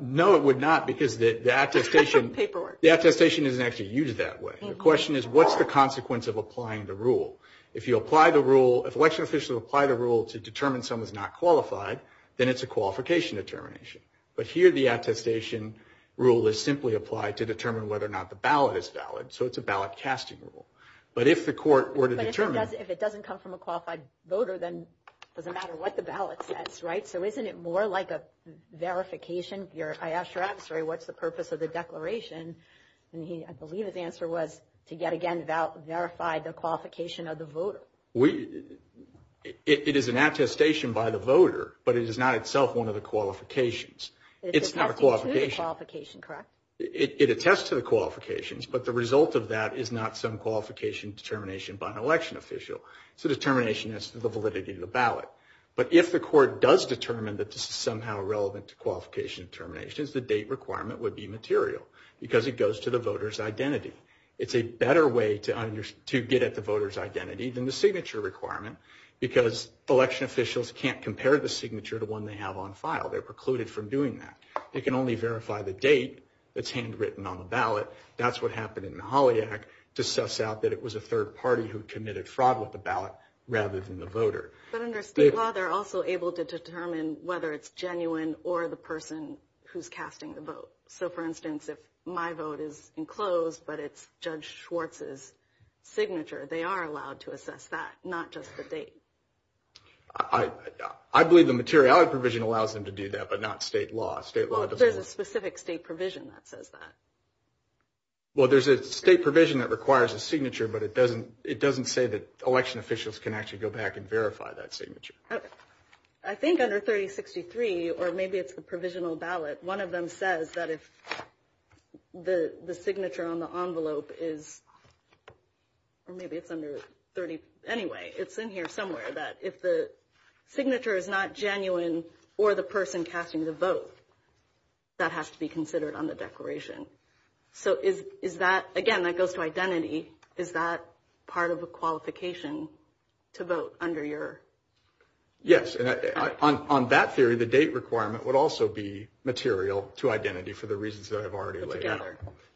No, it would not because the attestation isn't actually used that way. The question is what's the consequence of applying the rule? If you apply the rule, if election officials apply the rule to determine someone's not qualified, then it's a qualification determination. But here the attestation rule is simply applied to determine whether or not the ballot is valid, so it's a ballot-casting rule. But if the court were to determine – But if it doesn't come from a qualified voter, then it doesn't matter what the ballot says, right? So isn't it more like a verification? I asked your adversary what's the purpose of the declaration, and I believe his answer was to, yet again, verify the qualification of the voter. It is an attestation by the voter, but it is not itself one of the qualifications. It's not a qualification. It attests to the qualification, correct? It attests to the qualifications, but the result of that is not some qualification determination by an election official. It's a determination as to the validity of the ballot. But if the court does determine that this is somehow relevant to qualification determinations, the date requirement would be material because it goes to the voter's identity. It's a better way to get at the voter's identity than the signature requirement because election officials can't compare the signature to one they have on file. They're precluded from doing that. They can only verify the date that's handwritten on the ballot. That's what happened in the Holly Act to suss out that it was a third party who committed fraud with the ballot rather than the voter. But under state law, they're also able to determine whether it's genuine or the person who's casting the vote. So, for instance, if my vote is enclosed but it's Judge Schwartz's signature, they are allowed to assess that, not just the date. I believe the materiality provision allows them to do that, but not state law. There's a specific state provision that says that. Well, there's a state provision that requires a signature, but it doesn't say that election officials can actually go back and verify that signature. I think under 3063, or maybe it's a provisional ballot, one of them says that if the signature on the envelope is, or maybe it's under 30, anyway, it's in here somewhere, that if the signature is not genuine or the person casting the vote, that has to be considered on the declaration. So is that, again, that goes to identity, is that part of a qualification to vote under your? Yes. On that theory, the date requirement would also be material to identity for the reasons that I've already laid out.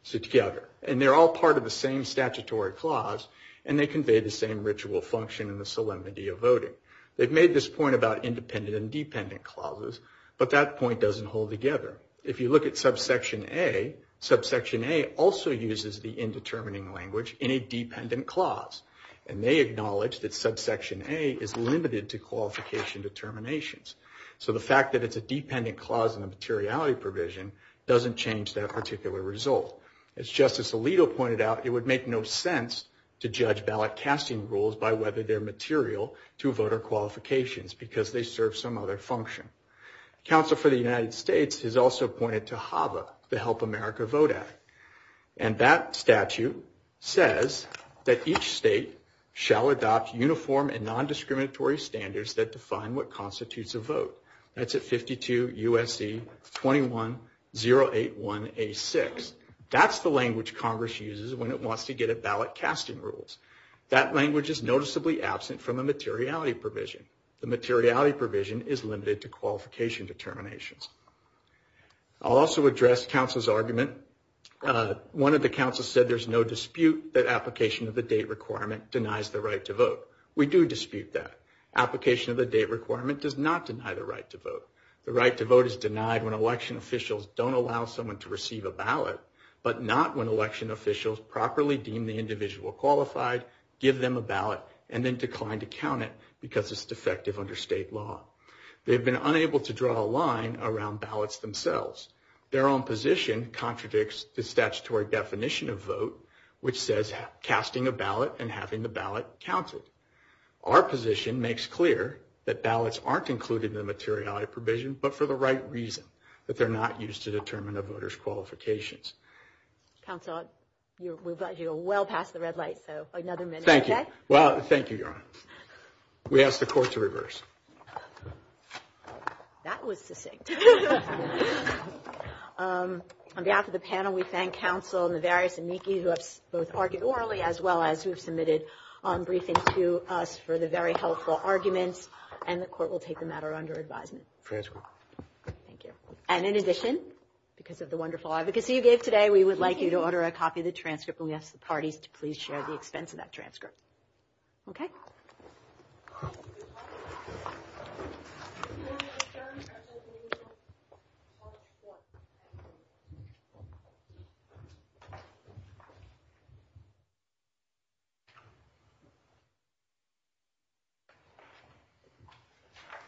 So together. And they're all part of the same statutory clause, and they convey the same ritual function and the solemnity of voting. They've made this point about independent and dependent clauses, but that point doesn't hold together. If you look at subsection A, subsection A also uses the indetermining language in a dependent clause, and they acknowledge that subsection A is limited to qualification determinations. So the fact that it's a dependent clause in the materiality provision doesn't change that particular result. As Justice Alito pointed out, it would make no sense to judge ballot casting rules by whether they're material to voter qualifications because they serve some other function. Counsel for the United States has also pointed to HAVA, the Help America Vote Act, and that statute says that each state shall adopt uniform and non-discriminatory standards that define what constitutes a vote. That's at 52 U.S.C. 21081A6. That's the language Congress uses when it wants to get at ballot casting rules. That language is noticeably absent from the materiality provision. The materiality provision is limited to qualification determinations. I'll also address counsel's argument. One of the counsels said there's no dispute that application of the date requirement denies the right to vote. We do dispute that. Application of the date requirement does not deny the right to vote. The right to vote is denied when election officials don't allow someone to receive a ballot, but not when election officials properly deem the individual qualified, give them a ballot, and then decline to count it because it's defective under state law. They've been unable to draw a line around ballots themselves. Their own position contradicts the statutory definition of vote, which says casting a ballot and having the ballot counted. Our position makes clear that ballots aren't included in the materiality provision, but for the right reason, that they're not used to determine a voter's qualifications. Counsel, we're glad you're well past the red light, so another minute. Thank you. Well, thank you, Your Honor. We ask the court to reverse. That was succinct. On behalf of the panel, we thank counsel and the various amici who have both argued orally, as well as who submitted briefings to us for the very helpful arguments, and the court will take the matter under advisement. Thank you. And in addition, because of the wonderful advocacy you gave today, we would like you to order a copy of the transcript and we ask the party to please share the expense of that transcript. Okay?